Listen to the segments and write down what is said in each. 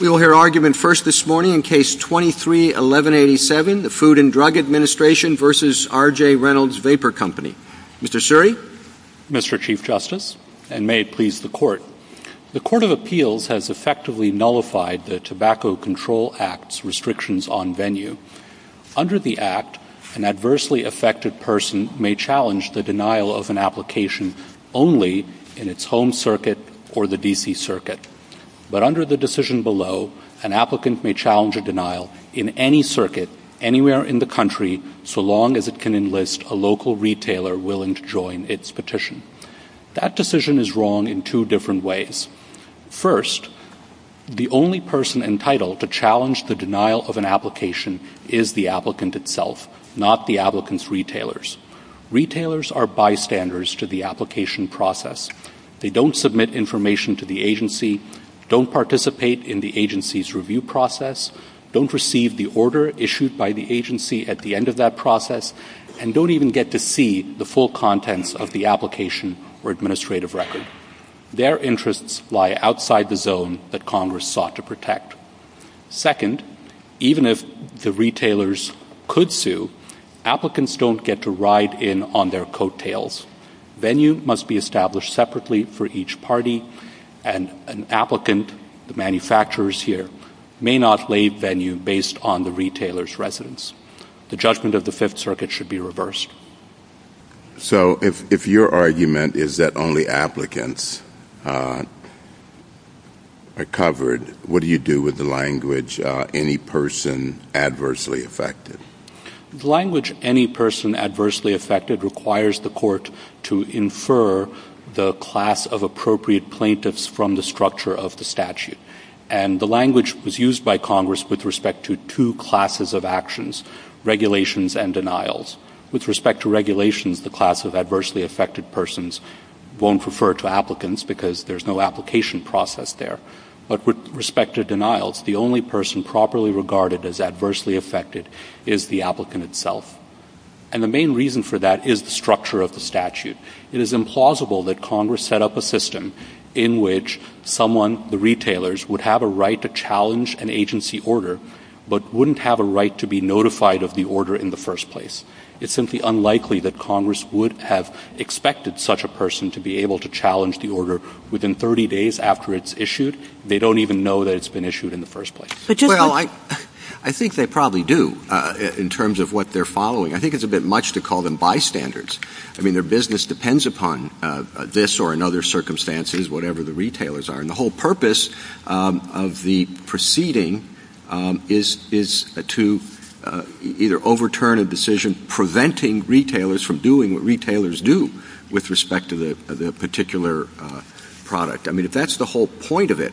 We will hear argument first this morning in Case 23-1187, the Food and Drug Administration v. R.J. Reynolds Vapor Co. Mr. Suri? Mr. Chief Justice, and may it please the Court, the Court of Appeals has effectively nullified the Tobacco Control Act's restrictions on venue. Under the Act, an adversely affected person may challenge the denial of an application only in its home circuit or the D.C. circuit. But under the decision below, an applicant may challenge a denial in any circuit, anywhere in the country, so long as it can enlist a local retailer willing to join its petition. That decision is wrong in two different ways. First, the only person entitled to challenge the denial of an application is the applicant itself, not the applicant's retailers. Retailers are bystanders to the application process. They don't submit information to the agency, don't participate in the agency's review process, don't receive the order issued by the agency at the end of that process, and don't even get to see the full contents of the application or administrative record. Their interests lie outside the zone that Congress sought to protect. Second, even if the retailers could sue, applicants don't get to ride in on their coattails. Venue must be established separately for each party, and an applicant, the manufacturers here, may not lay venue based on the retailer's residence. The judgment of the Fifth Circuit should be reversed. So if your argument is that only applicants are covered, what do you do with the language any person adversely affected? The language any person adversely affected requires the court to infer the class of appropriate plaintiffs from the structure of the statute. And the language was used by Congress with respect to two classes of actions, regulations and denials. With respect to regulations, the class of adversely affected persons won't refer to applicants because there's no application process there. But with respect to denials, the only person properly regarded as adversely affected is the applicant itself. And the main reason for that is the structure of the statute. It is implausible that Congress set up a system in which someone, the retailers, would have a right to challenge an agency order, but wouldn't have a right to be notified of the order in the first place. It's simply unlikely that Congress would have expected such a person to be able to within 30 days after it's issued, they don't even know that it's been issued in the first place. Well, I think they probably do in terms of what they're following. I think it's a bit much to call them bystanders. I mean, their business depends upon this or in other circumstances, whatever the retailers are. And the whole purpose of the proceeding is to either overturn a decision preventing retailers from doing what retailers do with respect to the particular product. I mean, if that's the whole point of it,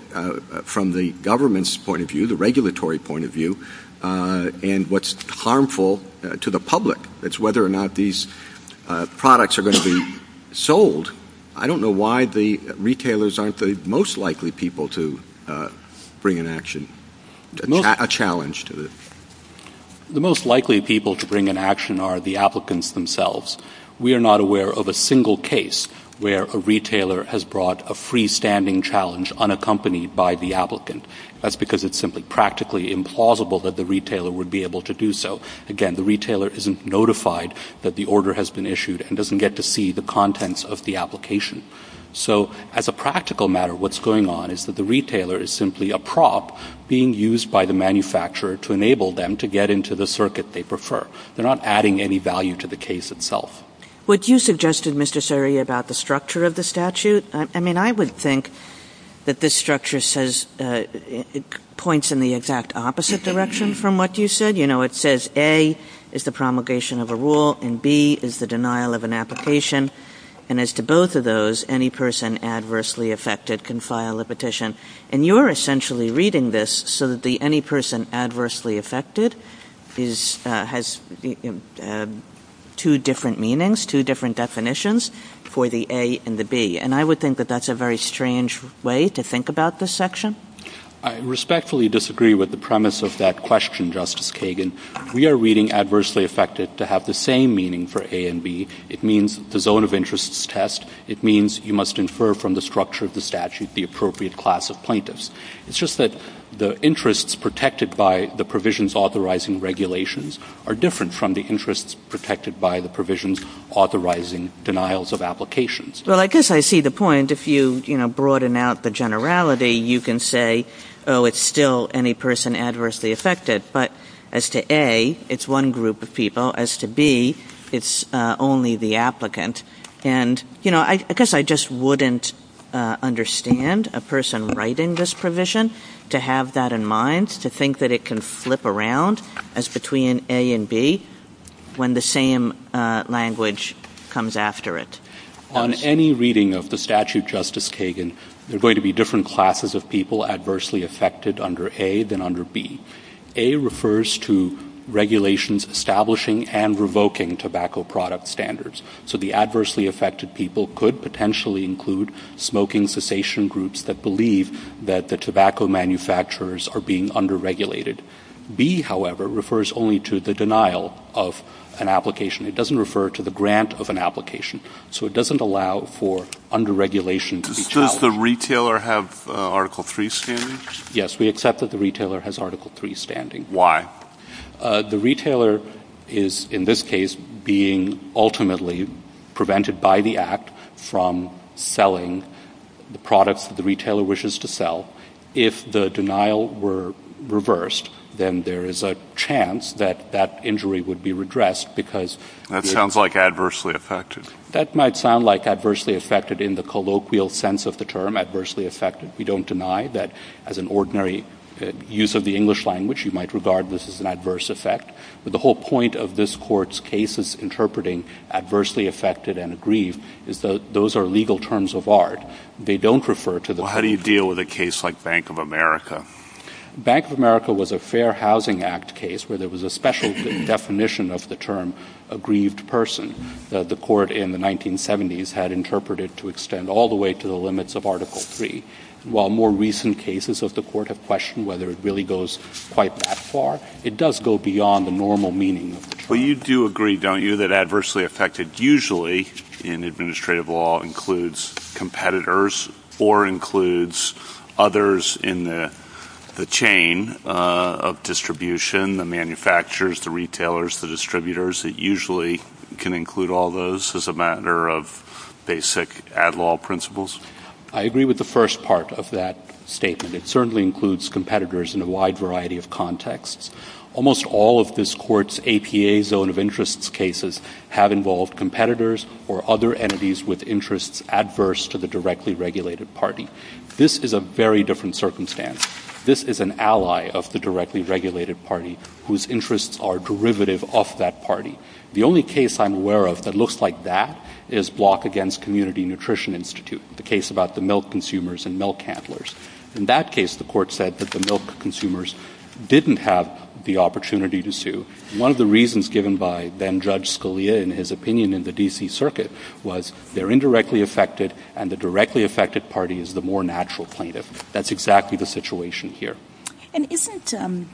from the government's point of view, the regulatory point of view, and what's harmful to the public, it's whether or not these products are going to be sold. I don't know why the retailers aren't the most likely people to bring an action, a challenge to this. The most likely people to bring an action are the applicants themselves. We are not aware of a single case where a retailer has brought a freestanding challenge unaccompanied by the applicant. That's because it's simply practically implausible that the retailer would be able to do so. Again, the retailer isn't notified that the order has been issued and doesn't get to see the contents of the application. So as a practical matter, what's going on is that the retailer is simply a prop being used by the manufacturer to enable them to get into the circuit they prefer. They're not adding any value to the case itself. What you suggested, Mr. Suri, about the structure of the statute, I mean, I would think that this structure says, it points in the exact opposite direction from what you said. You know, it says A is the promulgation of a rule and B is the denial of an application. And as to both of those, any person adversely affected can file a petition. And you're essentially reading this so that the any person adversely affected has two different meanings, two different definitions for the A and the B. And I would think that that's a very strange way to think about this section. I respectfully disagree with the premise of that question, Justice Kagan. We are reading adversely affected to have the same meaning for A and B. It means the zone of interest test. It means you must infer from the structure of the statute the appropriate class of plaintiffs. It's just that the interests protected by the provisions authorizing regulations are different from the interests protected by the provisions authorizing denials of applications. Well, I guess I see the point. If you, you know, broaden out the generality, you can say, oh, it's still any person adversely affected. But as to A, it's one group of people. As to B, it's only the applicant. And, you know, I guess I just wouldn't understand a person writing this provision to have that in mind, to think that it can flip around as between A and B when the same language comes after it. On any reading of the statute, Justice Kagan, there are going to be different classes of people adversely affected under A than under B. A refers to regulations establishing and revoking tobacco product standards. So the adversely affected people could potentially include smoking cessation groups that believe that the tobacco manufacturers are being under-regulated. B, however, refers only to the denial of an application. It doesn't refer to the grant of an application. So it doesn't allow for under-regulation to be challenged. Does the retailer have Article III standing? Yes, we accept that the retailer has Article III standing. Why? The retailer is, in this case, being ultimately prevented by the Act from selling the products that the retailer wishes to sell. If the denial were reversed, then there is a chance that that injury would be redressed because... That sounds like adversely affected. That might sound like adversely affected in the colloquial sense of the term, adversely affected. We don't deny that as an ordinary use of the English language, you might regard this as an adverse effect. But the whole point of this Court's cases interpreting adversely affected and aggrieved is that those are legal terms of art. They don't refer to the... Well, how do you deal with a case like Bank of America? Bank of America was a Fair Housing Act case where there was a special definition of the term aggrieved person that the Court in the 1970s had interpreted to extend all the way to the limits of Article III. While more recent cases of the Court have questioned whether it really goes quite that far, it does go beyond the normal meaning of the term. You do agree, don't you, that adversely affected usually in administrative law includes competitors or includes others in the chain of distribution, the manufacturers, the retailers, the distributors, that usually can include all those as a matter of basic ad law principles? I agree with the first part of that statement. It certainly includes competitors in a wide variety of contexts. Almost all of this Court's APA zone of interest cases have involved competitors or other entities with interests adverse to the directly regulated party. This is a very different circumstance. This is an ally of the directly regulated party whose interests are derivative of that party. The only case I'm aware of that looks like that is Block Against Community Nutrition Institute, the case about the milk consumers and milk handlers. In that case, the Court said that the milk consumers didn't have the opportunity to sue. One of the reasons given by then Judge Scalia in his opinion in the D.C. Circuit was they're indirectly affected and the directly affected party is the more natural plaintiff. That's exactly the situation here. Isn't it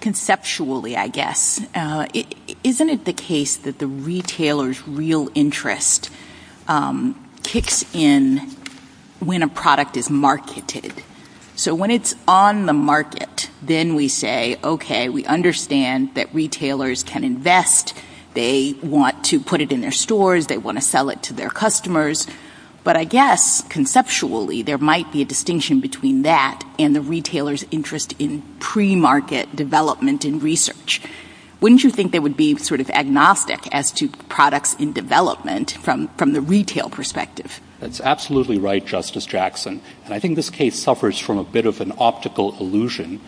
conceptually, I guess, isn't it the case that the retailer's real interest kicks in when a product is marketed? So when it's on the market, then we say, okay, we understand that retailers can invest. They want to put it in their stores. They want to sell it to their customers. But I guess, conceptually, there might be a distinction between that and the retailer's interest in pre-market development and research. Wouldn't you think they would be sort of agnostic as to products in development from the retail perspective? That's absolutely right, Justice Jackson. I think this case suffers from a bit of an optical illusion,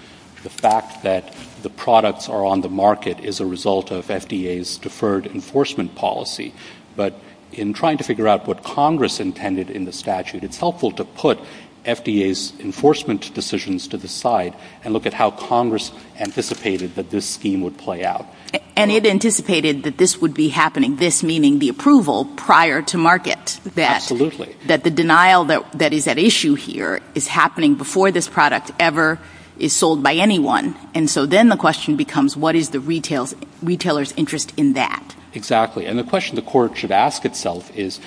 the fact that the products are on the market as a result of FDA's deferred enforcement policy. But in trying to figure out what Congress intended in the statute, it's helpful to put FDA's enforcement decisions to the side and look at how Congress anticipated that this scheme would play out. And it anticipated that this would be happening, this meaning the approval prior to market. Absolutely. That the denial that is at issue here is happening before this product ever is sold by anyone. And so then the question becomes, what is the retailer's interest in that? Exactly. And the question the court should ask itself is,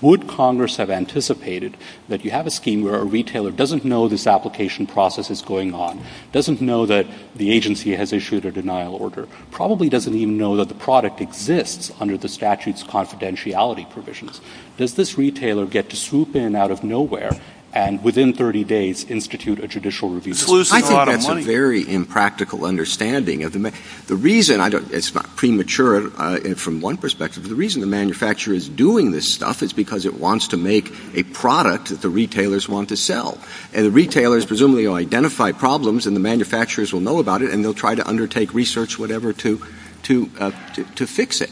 would Congress have anticipated that you have a scheme where a retailer doesn't know this application process is going on, doesn't know that the agency has issued a denial order, probably doesn't even know that the product exists under the statute's confidentiality provisions. Does this retailer get to swoop in out of nowhere and within 30 days institute a judicial review? I think that's a very impractical understanding. The reason, it's not premature from one perspective, the reason the manufacturer is doing this stuff is because it wants to make a product that the retailers want to sell. And the retailers presumably will identify problems and the manufacturers will know about it and they'll try to undertake research, whatever, to fix it.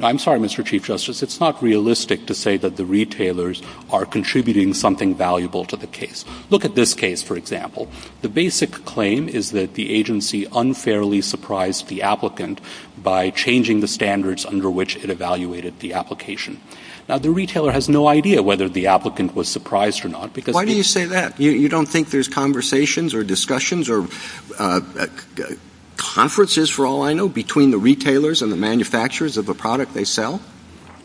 I'm sorry, Mr. Chief Justice, it's not realistic to say that the retailers are contributing something valuable to the case. Look at this case, for example. The basic claim is that the agency unfairly surprised the applicant by changing the standards under which it evaluated the application. Now, the retailer has no idea whether the applicant was surprised or not because... Why do you say that? You don't think there's conversations or discussions or conferences, for all I know, between the retailers and the manufacturers of a product they sell?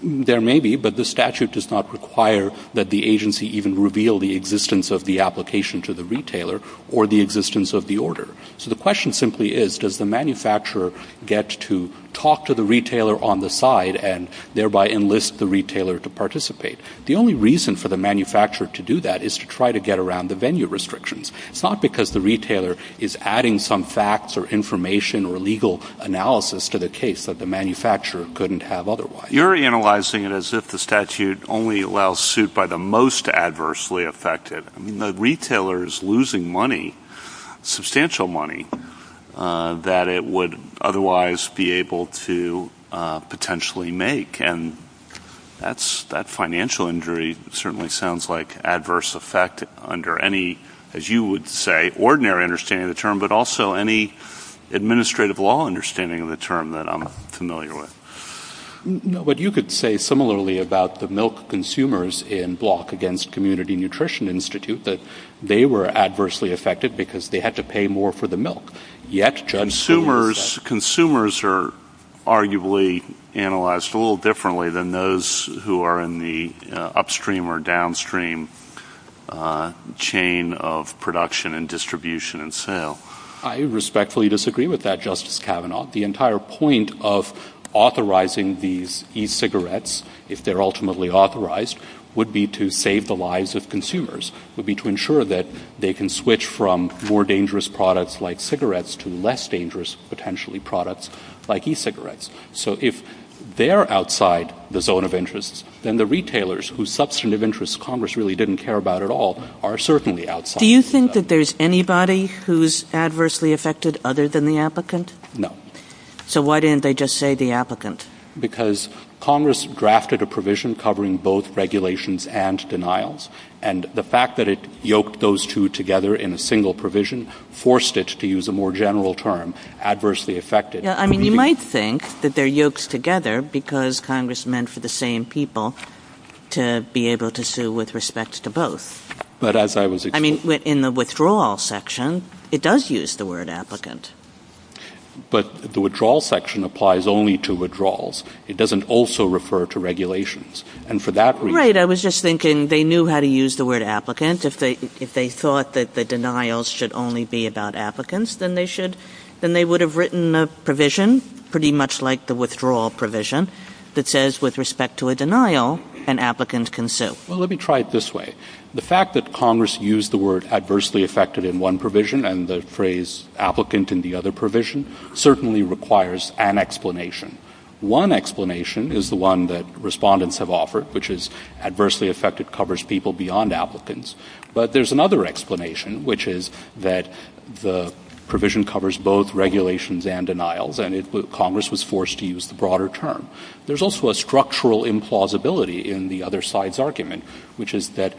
There may be, but the statute does not require that the agency even reveal the existence of the application to the retailer or the existence of the order. So the question simply is, does the manufacturer get to talk to the retailer on the side and thereby enlist the retailer to participate? The only reason for the manufacturer to do that is to try to get around the venue restrictions. It's not because the retailer is adding some facts or information or legal analysis to the case that the manufacturer couldn't have otherwise. You're analyzing it as if the statute only allows suit by the most adversely affected. The retailer is losing money, substantial money, that it would otherwise be able to potentially make, and that financial injury certainly sounds like adverse effect under any, as you would say, ordinary understanding of the term, but also any administrative law understanding of the term that I'm familiar with. No, but you could say similarly about the milk consumers in Block Against Community Nutrition Institute, that they were adversely affected because they had to pay more for the milk. Yet, Judge... Consumers are arguably analyzed a little differently than those who are in the upstream or downstream chain of production and distribution and sale. I respectfully disagree with that, Justice Kavanaugh. The entire point of authorizing these e-cigarettes, if they're ultimately authorized, would be to save the lives of consumers, would be to ensure that they can switch from more dangerous products like cigarettes to less dangerous potentially products like e-cigarettes. So if they're outside the zone of interest, then the retailers whose substantive interests Congress really didn't care about at all are certainly outside. Do you think that there's anybody who's adversely affected other than the applicant? No. So why didn't they just say the applicant? Because Congress drafted a provision covering both regulations and denials. And the fact that it yoked those two together in a single provision forced it to use a more general term, adversely affected. Yeah, I mean, you might think that they're yoked together because Congress meant for the same people to be able to sue with respects to both. But as I was... I mean, in the withdrawal section, it does use the word applicant. But the withdrawal section applies only to withdrawals. It doesn't also refer to regulations. And for that reason... I was just thinking they knew how to use the word applicant. If they thought that the denials should only be about applicants, then they would have written a provision pretty much like the withdrawal provision that says with respect to a denial, an applicant can sue. Well, let me try it this way. The fact that Congress used the word adversely affected in one provision and the phrase applicant in the other provision certainly requires an explanation. One explanation is the one that respondents have offered, which is adversely affected covers people beyond applicants. But there's another explanation, which is that the provision covers both regulations and denials. And Congress was forced to use the broader term. There's also a structural implausibility in the other side's argument, which is that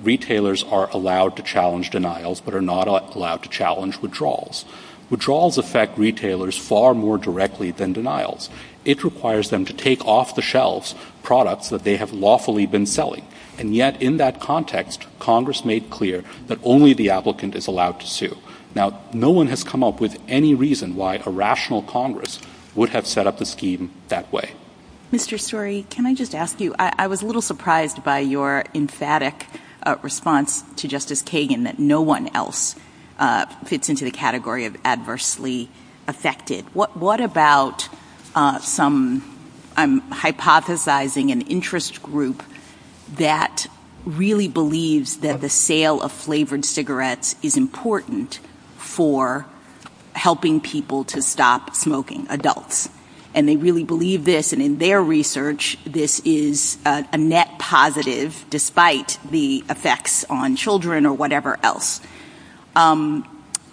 retailers are allowed to challenge denials, but are not allowed to challenge withdrawals. Withdrawals affect retailers far more directly than denials. It requires them to take off the shelves products that they have lawfully been selling. And yet in that context, Congress made clear that only the applicant is allowed to sue. Now, no one has come up with any reason why a rational Congress would have set up a scheme that way. Mr. Story, can I just ask you, I was a little surprised by your emphatic response to Justice Kagan that no one else fits into the category of adversely affected. What about some, I'm hypothesizing an interest group that really believes that the sale of flavored cigarettes is important for helping people to stop smoking, adults. And they really believe this. And in their research, this is a net positive, despite the effects on children or whatever else,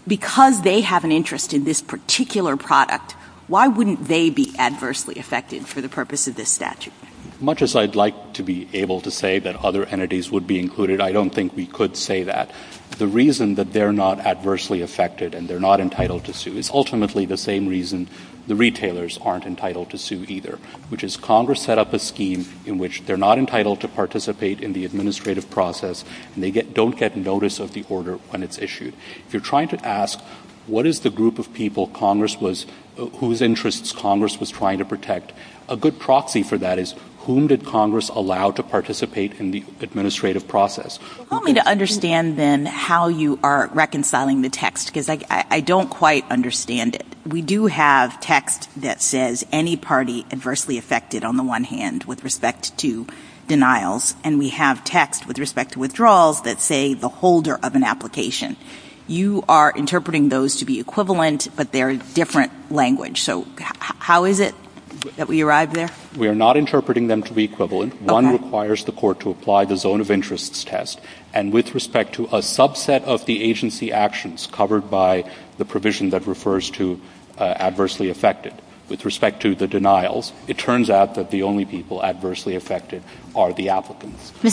because they have an interest in this particular product. Why wouldn't they be adversely affected for the purpose of this statute? Much as I'd like to be able to say that other entities would be included, I don't think we could say that. The reason that they're not adversely affected and they're not entitled to sue is ultimately the same reason the retailers aren't entitled to sue either, which is Congress set up a scheme in which they're not entitled to participate in the administrative process and they don't get notice of the order when it's issued. You're trying to ask, what is the group of people whose interests Congress was trying to protect? A good proxy for that is, whom did Congress allow to participate in the administrative process? Help me to understand then how you are reconciling the text, because I don't quite understand it. We do have text that says any party adversely affected on the one hand with respect to denials, and we have text with respect to withdrawals that say the holder of an application. You are interpreting those to be equivalent, but they're different language. So how is it that we arrive there? We are not interpreting them to be equivalent. One requires the court to apply the zone of interest test, and with respect to a subset of the agency actions covered by the provision that refers to adversely affected, with respect to the denials, it turns out that the only people adversely affected are the applicants. I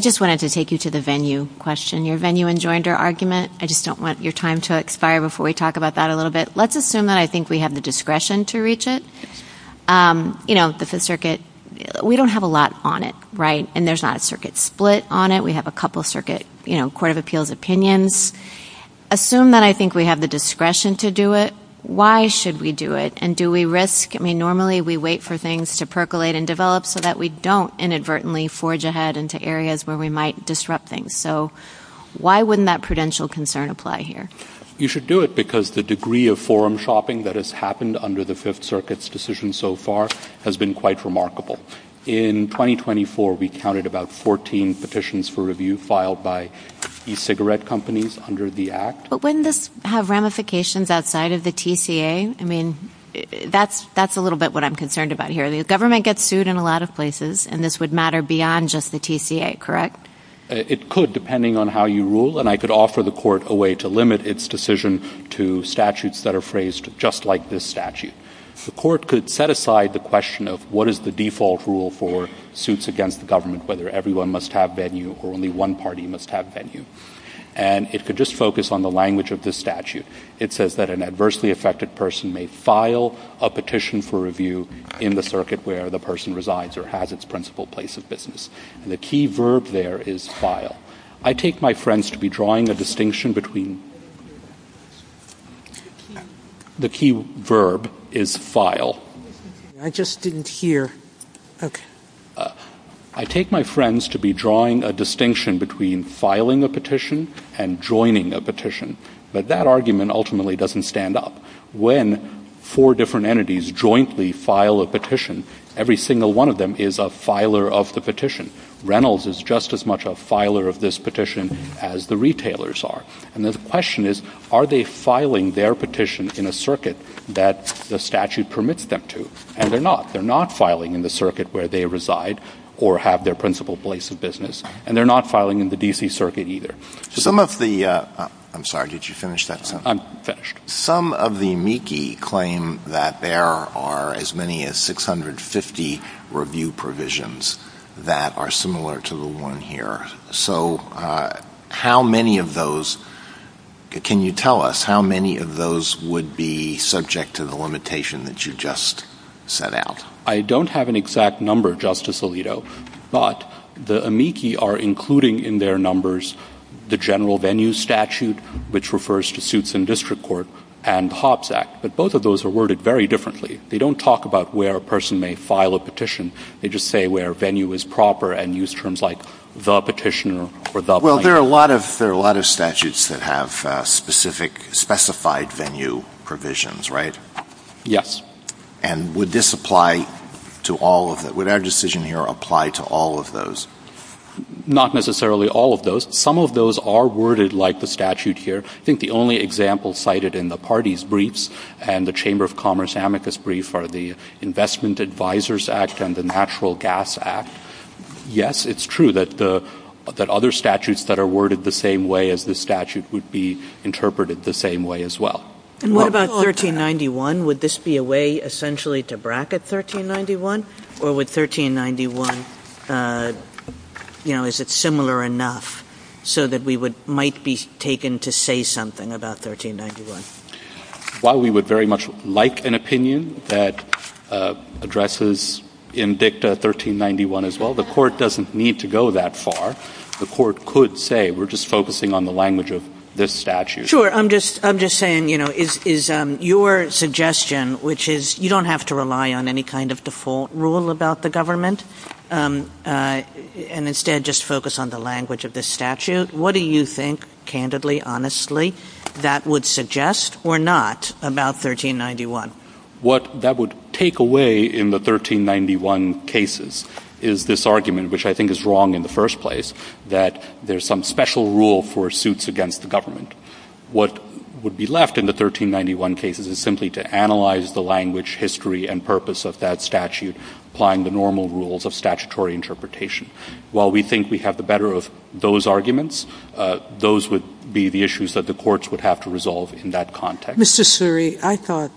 just wanted to take you to the venue question. Your venue enjoined your argument, I just don't want your time to expire before we talk about that a little bit. Let's assume that I think we have the discretion to reach it. The Fifth Circuit, we don't have a lot on it, and there's not a circuit split on it. We have a couple of Circuit Court of Appeals opinions. Assume that I think we have the discretion to do it. Why should we do it, and do we risk, I mean normally we wait for things to percolate and develop so that we don't inadvertently forge ahead into areas where we might disrupt things. So why wouldn't that prudential concern apply here? You should do it because the degree of forum shopping that has happened under the Fifth Circuit's decision so far has been quite remarkable. In 2024, we counted about 14 petitions for review filed by e-cigarette companies under the Act. But wouldn't this have ramifications outside of the TCA, I mean, that's a little bit what I'm concerned about here. The government gets sued in a lot of places, and this would matter beyond just the TCA, correct? It could, depending on how you rule, and I could offer the court a way to limit its decision to statutes that are phrased just like this statute. The court could set aside the question of what is the default rule for suits against the government, whether everyone must have venue or only one party must have venue. And it could just focus on the language of this statute. It says that an adversely affected person may file a petition for review in the circuit where the person resides or has its principal place of business. The key verb there is file. I take my friends to be drawing a distinction between... The key verb is file. I just didn't hear. I take my friends to be drawing a distinction between filing a petition and joining a petition, but that argument ultimately doesn't stand up. When four different entities jointly file a petition, every single one of them is a filer of the petition. Reynolds is just as much a filer of this petition as the retailers are. And the question is, are they filing their petition in a circuit that the statute permits them to? And they're not. They're not filing in the circuit where they reside or have their principal place of business, and they're not filing in the DC circuit either. Some of the... I'm sorry, did you finish that sentence? I'm finished. Some of the amici claim that there are as many as 650 review provisions that are similar to the one here. So how many of those... Can you tell us how many of those would be subject to the limitation that you just set out? I don't have an exact number, Justice Alito, but the amici are including in their numbers the general venue statute, which refers to suits in district court, and the Hobbs Act. But both of those are worded very differently. They don't talk about where a person may file a petition. They just say where venue is proper and use terms like the petitioner or the... Well, there are a lot of statutes that have specific, specified venue provisions, right? Yes. And would this apply to all of them? Would our decision here apply to all of those? Not necessarily all of those. Some of those are worded like the statute here. I think the only example cited in the parties' briefs and the Chamber of Commerce amicus brief are the Investment Advisors Act and the Natural Gas Act. Yes, it's true that other statutes that are worded the same way as this statute would be interpreted the same way as well. And what about 1391? Would this be a way essentially to bracket 1391, or would 1391, you know, is it similar enough so that we might be taken to say something about 1391? While we would very much like an opinion that addresses in dicta 1391 as well, the court doesn't need to go that far. The court could say, we're just focusing on the language of this statute. Sure. I'm just saying, you know, is your suggestion, which is you don't have to rely on any kind of default rule about the government, and instead just focus on the language of the statute, what do you think, candidly, honestly, that would suggest or not about 1391? What that would take away in the 1391 cases is this argument, which I think is wrong in the first place, that there's some special rule for suits against the government. What would be left in the 1391 cases is simply to analyze the language, history, and purpose of that statute, applying the normal rules of statutory interpretation. While we think we have the better of those arguments, those would be the issues that the courts would have to resolve in that context. Mr. Suri, I thought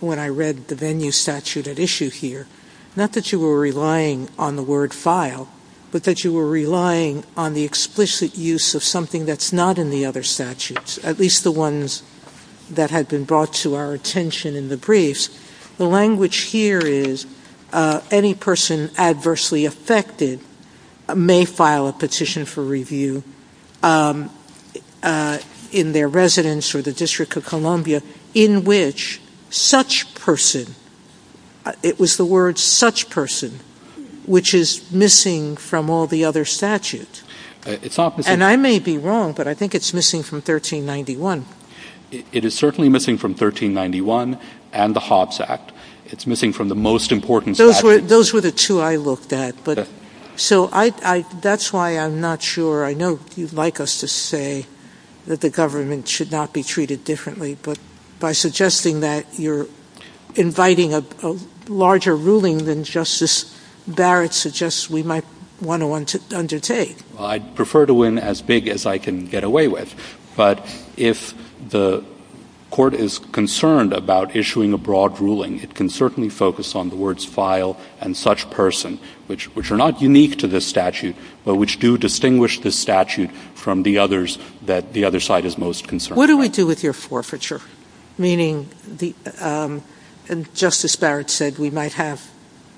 when I read the venue statute at issue here, not that you were relying on the word file, but that you were relying on the explicit use of something that's not in the other statutes, at least the ones that had been brought to our attention in the briefs. The language here is, any person adversely affected may file a petition for review in their residence or the District of Columbia in which such person, it was the word such person, which is missing from all the other statutes. And I may be wrong, but I think it's missing from 1391. It is certainly missing from 1391 and the Hobbs Act. It's missing from the most important statute. Those were the two I looked at. That's why I'm not sure, I know you'd like us to say that the government should not be I'd prefer to win as big as I can get away with. But if the court is concerned about issuing a broad ruling, it can certainly focus on the words file and such person, which are not unique to this statute, but which do distinguish the statute from the others that the other side is most concerned about. What do you do with your forfeiture? Meaning, Justice Barrett said we might have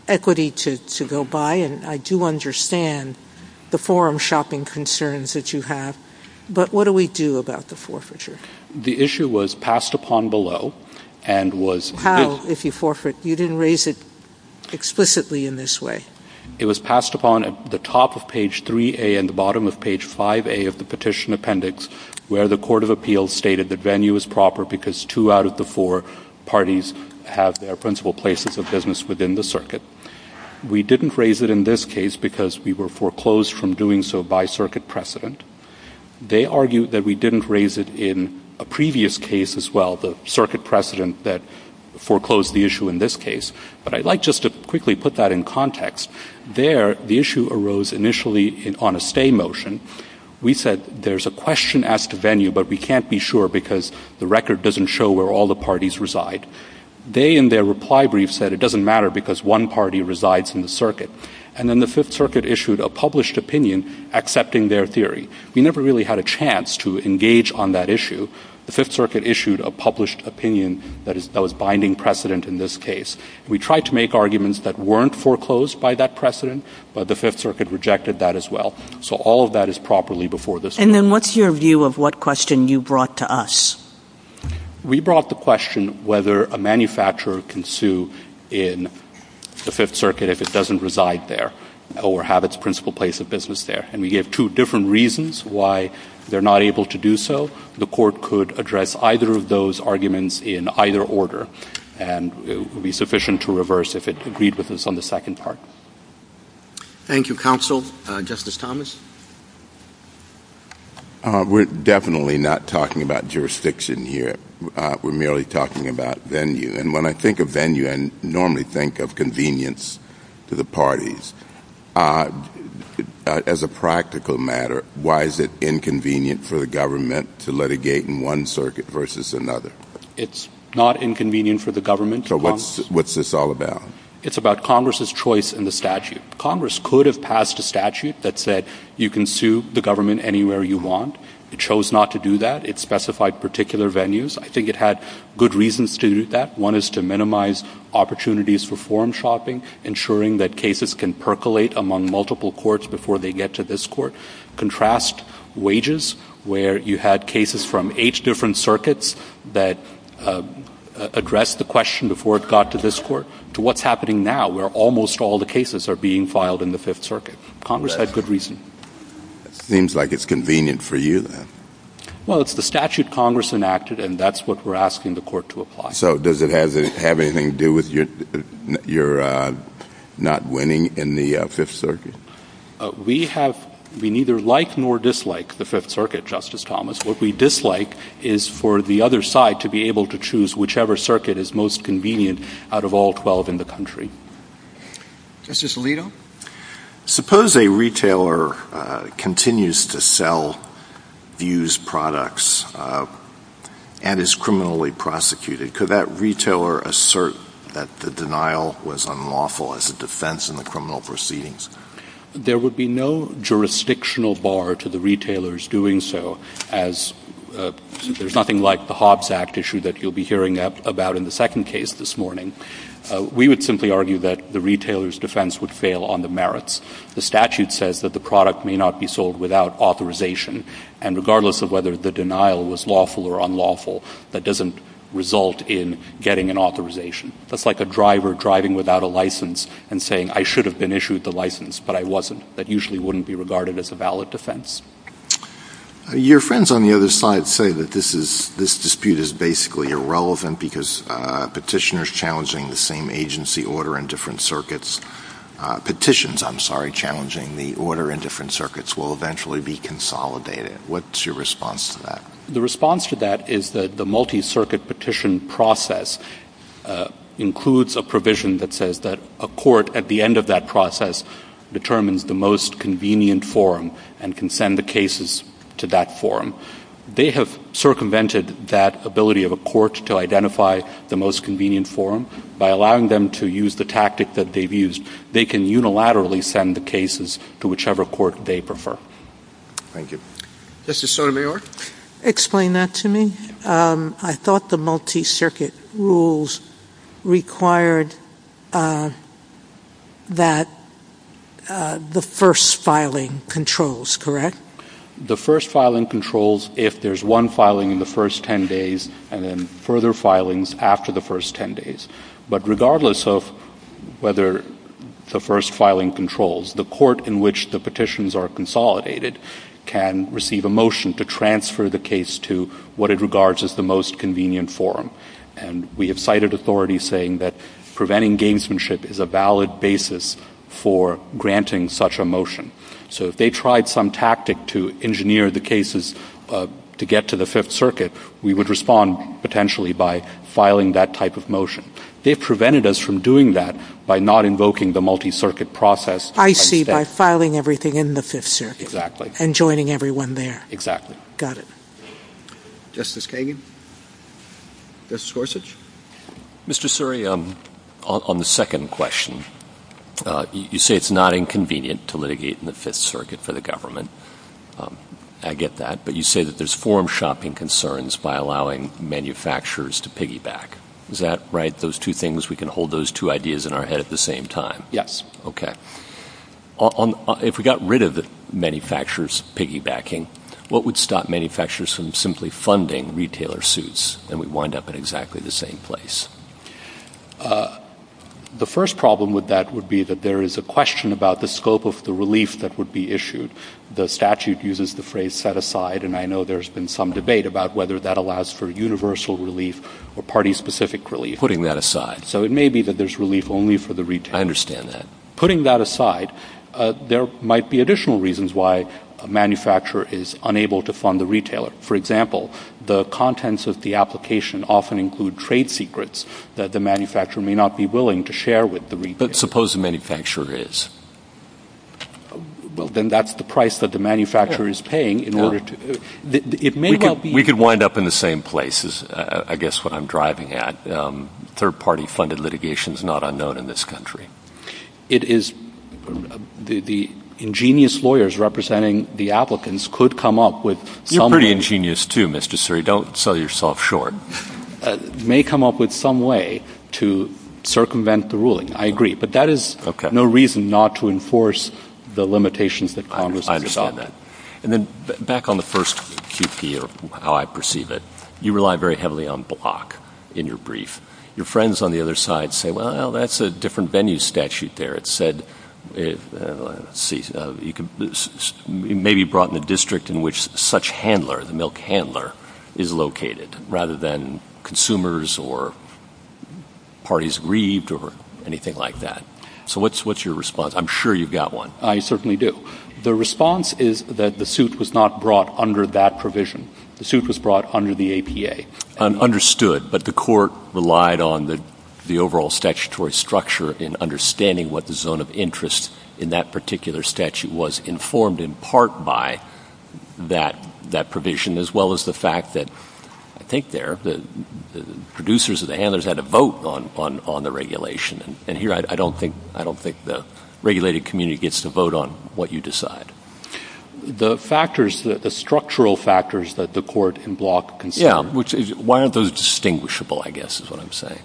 equity to go by, and I do understand the forum shopping concerns that you have, but what do we do about the forfeiture? The issue was passed upon below and was How, if you forfeit, you didn't raise it explicitly in this way. It was passed upon at the top of page 3A and the bottom of page 5A of the petition appendix where the court of appeals stated that venue is proper because two out of the four parties have their principal places of business within the circuit. We didn't raise it in this case because we were foreclosed from doing so by circuit precedent. They argued that we didn't raise it in a previous case as well, the circuit precedent that foreclosed the issue in this case. But I'd like just to quickly put that in context. There the issue arose initially on a stay motion. We said there's a question as to venue, but we can't be sure because the record doesn't show where all the parties reside. They in their reply brief said it doesn't matter because one party resides in the circuit. And then the Fifth Circuit issued a published opinion accepting their theory. We never really had a chance to engage on that issue. The Fifth Circuit issued a published opinion that was binding precedent in this case. We tried to make arguments that weren't foreclosed by that precedent, but the Fifth Circuit rejected that as well. So all of that is properly before this court. And then what's your view of what question you brought to us? We brought the question whether a manufacturer can sue in the Fifth Circuit if it doesn't reside there or have its principal place of business there. And we gave two different reasons why they're not able to do so. The court could address either of those arguments in either order, and it would be sufficient to reverse if it agreed with us on the second part. Thank you, Counsel. Justice Thomas? We're definitely not talking about jurisdiction here. We're merely talking about venue. And when I think of venue, I normally think of convenience to the parties. As a practical matter, why is it inconvenient for the government to litigate in one circuit versus another? It's not inconvenient for the government. So what's this all about? It's about Congress's choice in the statute. Congress could have passed a statute that said you can sue the government anywhere you want. It chose not to do that. It specified particular venues. I think it had good reasons to do that. One is to minimize opportunities for forum shopping, ensuring that cases can percolate among multiple courts before they get to this court. Contrast wages, where you had cases from eight different circuits that addressed the question before it got to this court, to what's happening now, where almost all the cases are being filed in the Fifth Circuit. Congress had good reasons. Seems like it's convenient for you, then. Well, it's the statute Congress enacted, and that's what we're asking the court to apply. So does it have anything to do with your not winning in the Fifth Circuit? We neither like nor dislike the Fifth Circuit, Justice Thomas. What we dislike is for the other side to be able to choose whichever circuit is most convenient out of all 12 in the country. Justice Alito? Suppose a retailer continues to sell abused products and is criminally prosecuted. Could that retailer assert that the denial was unlawful as a defense in the criminal proceedings? There would be no jurisdictional bar to the retailers doing so, as there's nothing like the Hobbs Act issue that you'll be hearing about in the second case this morning. We would simply argue that the retailer's defense would fail on the merits. The statute says that the product may not be sold without authorization. And regardless of whether the denial was lawful or unlawful, that doesn't result in getting an authorization. That's like a driver driving without a license and saying, I should have been issued the license, but I wasn't. That usually wouldn't be regarded as a valid defense. Your friends on the other side say that this dispute is basically irrelevant because petitioners challenging the same agency order in different circuits, petitions, I'm sorry, challenging the order in different circuits, will eventually be consolidated. What's your response to that? The response to that is that the multi-circuit petition process includes a provision that says that a court at the end of that process determines the most convenient form and can send the cases to that form. They have circumvented that ability of a court to identify the most convenient form. By allowing them to use the tactic that they've used, they can unilaterally send the cases to whichever court they prefer. Thank you. Justice Sotomayor? Explain that to me. I thought the multi-circuit rules required that the first filing controls, correct? The first filing controls if there's one filing in the first 10 days and then further filings after the first 10 days. But regardless of whether the first filing controls, the court in which the petitions are consolidated can receive a motion to transfer the case to what it regards as the most convenient form. And we have cited authorities saying that preventing gamesmanship is a valid basis for granting such a motion. So if they tried some tactic to engineer the cases to get to the Fifth Circuit, we would respond potentially by filing that type of motion. They prevented us from doing that by not invoking the multi-circuit process. I see, by filing everything in the Fifth Circuit and joining everyone there. Got it. Justice Kagan? Justice Gorsuch? Mr. Suri, on the second question, you say it's not inconvenient to litigate in the Fifth Circuit for the government. I get that. But you say that there's form-shopping concerns by allowing manufacturers to piggyback. Is that right? Those two things, we can hold those two ideas in our head at the same time? Yes. Okay. If we got rid of the manufacturer's piggybacking, what would stop manufacturers from simply funding retailer suits, and we'd wind up in exactly the same place? The first problem with that would be that there is a question about the scope of the relief that would be issued. The statute uses the phrase set aside, and I know there's been some debate about whether that allows for universal relief or party-specific relief, putting that aside. So it may be that there's relief only for the retailer. I understand that. Putting that aside, there might be additional reasons why a manufacturer is unable to fund the retailer. For example, the contents of the application often include trade secrets that the manufacturer may not be willing to share with the retailer. But suppose the manufacturer is? Well, then that's the price that the manufacturer is paying in order to... It may well be... We could wind up in the same place, is I guess what I'm driving at. Third-party funded litigation is not unknown in this country. It is... The ingenious lawyers representing the applicants could come up with... You're pretty ingenious, too, Mr. Suri. Don't sell yourself short. May come up with some way to circumvent the ruling. I agree. But that is no reason not to enforce the limitations that Congress has set up. I understand that. And then, back on the first QP of how I perceive it, you rely very heavily on block in your brief. Your friends on the other side say, well, that's a different venue statute there. It said... Let's see. You can... It may be brought in a district in which such handler, the milk handler, is located, rather than consumers or parties grieved or anything like that. So what's your response? I'm sure you've got one. I certainly do. The response is that the suit was not brought under that provision. The suit was brought under the APA. Understood. But the court relied on the overall statutory structure in understanding what the zone of interest in that particular statute was, informed in part by that provision, as well as the fact that, I think there, the producers or the handlers had a vote on the regulation. And here, I don't think the regulated community gets to vote on what you decide. The factors, the structural factors that the court in block... Yeah. Why aren't those distinguishable, I guess, is what I'm saying.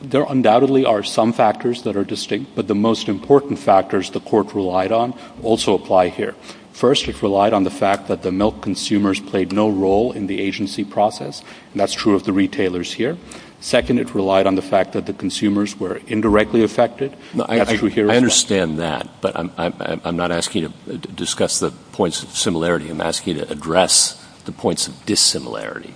There undoubtedly are some factors that are distinct, but the most important factors the court relied on also apply here. First, it relied on the fact that the milk consumers played no role in the agency process. That's true of the retailers here. Second, it relied on the fact that the consumers were indirectly affected. I understand that, but I'm not asking you to discuss the points of similarity. I'm asking you to address the points of dissimilarity.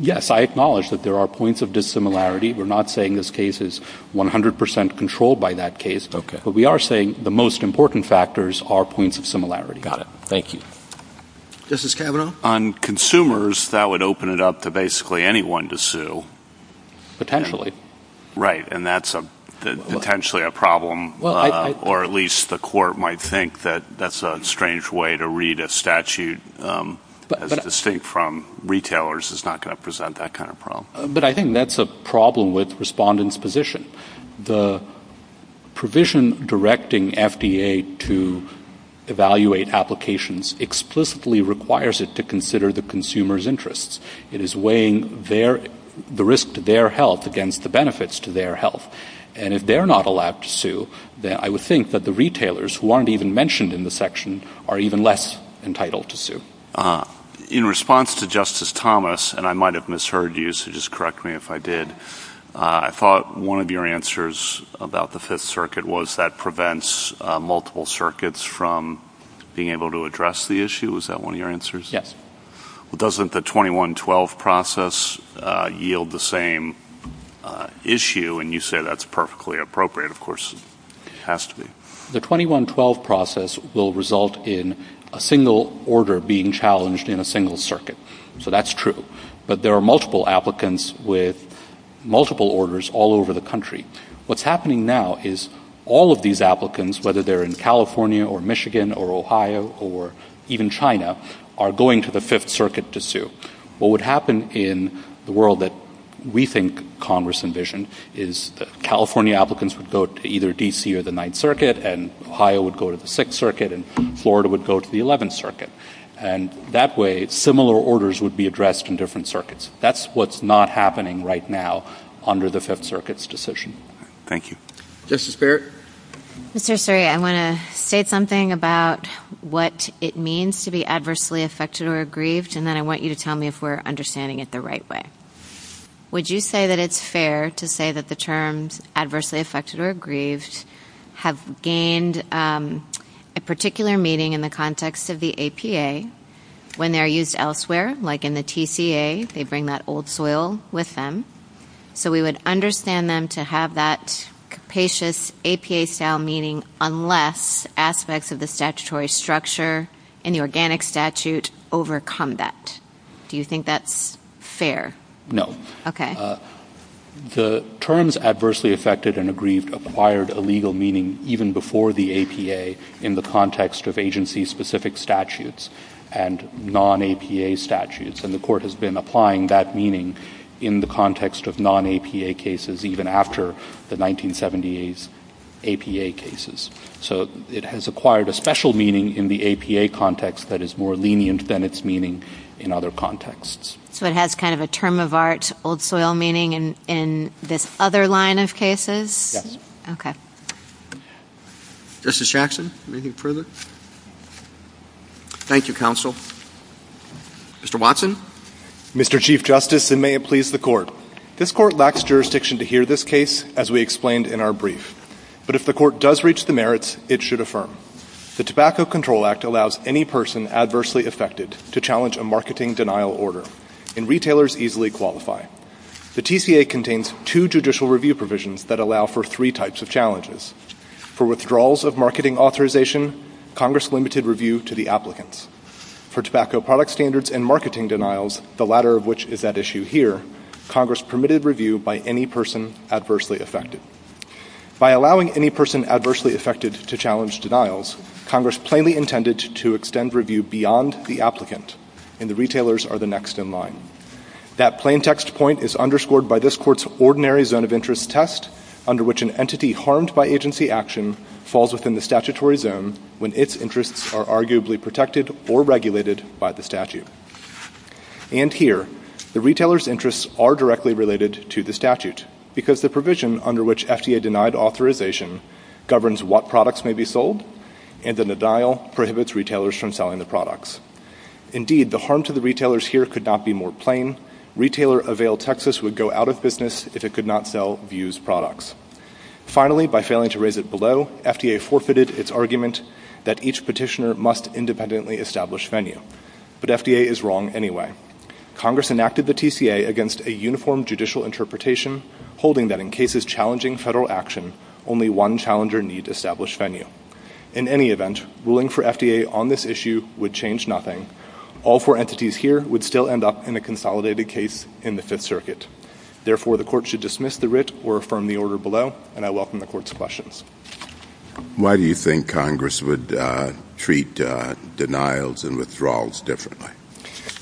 Yes, I acknowledge that there are points of dissimilarity. We're not saying this case is 100% controlled by that case, but we are saying the most important factors are points of similarity. Got it. Thank you. Justice Kavanaugh? On consumers, that would open it up to basically anyone to sue. Potentially. Right. And that's potentially a problem, or at least the court might think that that's a strange way to read a statute that's distinct from retailers. It's not going to present that kind of problem. But I think that's a problem with respondents' position. The provision directing FDA to evaluate applications explicitly requires it to consider the consumer's interests. It is weighing the risk to their health against the benefits to their health. And if they're not allowed to sue, then I would think that the retailers, who aren't even mentioned in the section, are even less entitled to sue. In response to Justice Thomas, and I might have misheard you, so just correct me if I did, I thought one of your answers about the Fifth Circuit was that prevents multiple circuits from being able to address the issue. Was that one of your answers? Yes. Well, doesn't the 2112 process yield the same issue? And you say that's perfectly appropriate, of course it has to be. The 2112 process will result in a single order being challenged in a single circuit. So that's true. But there are multiple applicants with multiple orders all over the country. What's happening now is all of these applicants, whether they're in California or Michigan or Ohio or even China, are going to the Fifth Circuit to sue. What would happen in the world that we think Congress envisioned is that California applicants would go to either D.C. or the Ninth Circuit, and Ohio would go to the Sixth Circuit, and Florida would go to the Eleventh Circuit. And that way, similar orders would be addressed in different circuits. That's what's not happening right now under the Fifth Circuit's decision. Thank you. Justice Barrett? Mr. Suri, I want to say something about what it means to be adversely affected or aggrieved, and then I want you to tell me if we're understanding it the right way. Would you say that it's fair to say that the terms adversely affected or aggrieved have gained a particular meaning in the context of the APA when they're used elsewhere, like in the TCA, they bring that old soil with them, so we would understand them to have that capacious APA-style meaning unless aspects of the statutory structure in the Organic Statute overcome that. Do you think that's fair? No. Okay. The terms adversely affected and aggrieved acquired a legal meaning even before the APA in the context of agency-specific statutes and non-APA statutes, and the Court has been applying that meaning in the context of non-APA cases even after the 1978 APA cases. So it has acquired a special meaning in the APA context that is more lenient than its meaning in other contexts. So it has kind of a term-of-art old soil meaning in this other line of cases? Yes. Okay. Justice Jackson, anything further? Thank you, counsel. Mr. Watson? Mr. Jackson? Thank you, Chief Justice, and may it please the Court. This Court lacks jurisdiction to hear this case, as we explained in our brief, but if the Court does reach the merits, it should affirm. The Tobacco Control Act allows any person adversely affected to challenge a marketing denial order, and retailers easily qualify. The TCA contains two judicial review provisions that allow for three types of challenges. For withdrawals of marketing authorization, Congress limited review to the applicants. For tobacco product standards and marketing denials, the latter of which is at issue here, Congress permitted review by any person adversely affected. By allowing any person adversely affected to challenge denials, Congress plainly intended to extend review beyond the applicant, and the retailers are the next in line. That plain text point is underscored by this Court's ordinary zone of interest test, under which an entity harmed by agency action falls within the statutory zone when its interests are arguably protected or regulated by the statute. And here, the retailers' interests are directly related to the statute, because the provision under which FDA denied authorization governs what products may be sold, and the denial prohibits retailers from selling the products. Indeed, the harm to the retailers here could not be more plain. Retailer-availed Texas would go out of business if it could not sell views products. Finally, by failing to raise it below, FDA forfeited its argument that each petitioner must independently establish VENYA, but FDA is wrong anyway. Congress enacted the TCA against a uniform judicial interpretation, holding that in cases challenging federal action, only one challenger needs established VENYA. In any event, ruling for FDA on this issue would change nothing. All four entities here would still end up in a consolidated case in the Fifth Circuit. Therefore, the Court should dismiss the writ or affirm the order below, and I welcome the Court's questions. Why do you think Congress would treat denials and withdrawals differently?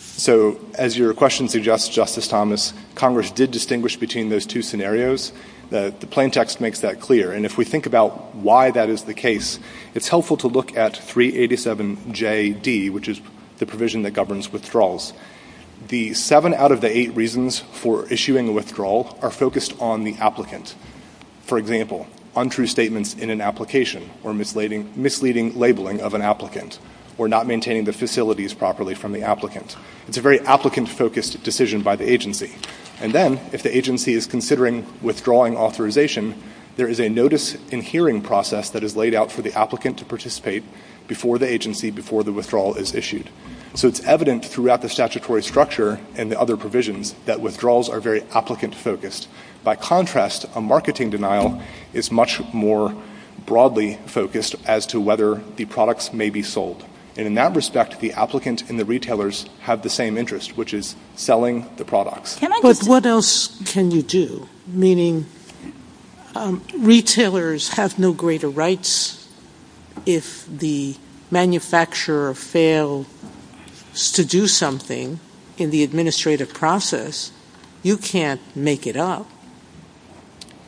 So as your question suggests, Justice Thomas, Congress did distinguish between those two scenarios. The plain text makes that clear, and if we think about why that is the case, it's helpful to look at 387JD, which is the provision that governs withdrawals. The seven out of the eight reasons for issuing a withdrawal are focused on the applicant. For example, untrue statements in an application, or misleading labeling of an applicant, or not maintaining the facilities properly from the applicant. It's a very applicant-focused decision by the agency. And then, if the agency is considering withdrawing authorization, there is a notice-in-hearing process that is laid out for the applicant to participate before the agency, before the withdrawal is issued. So it's evident throughout the statutory structure and the other provisions that withdrawals are very applicant-focused. By contrast, a marketing denial is much more broadly focused as to whether the products may be sold. And in that respect, the applicant and the retailers have the same interest, which is selling the product. But what else can you do, meaning retailers have no greater rights if the manufacturer fails to do something in the administrative process, you can't make it up.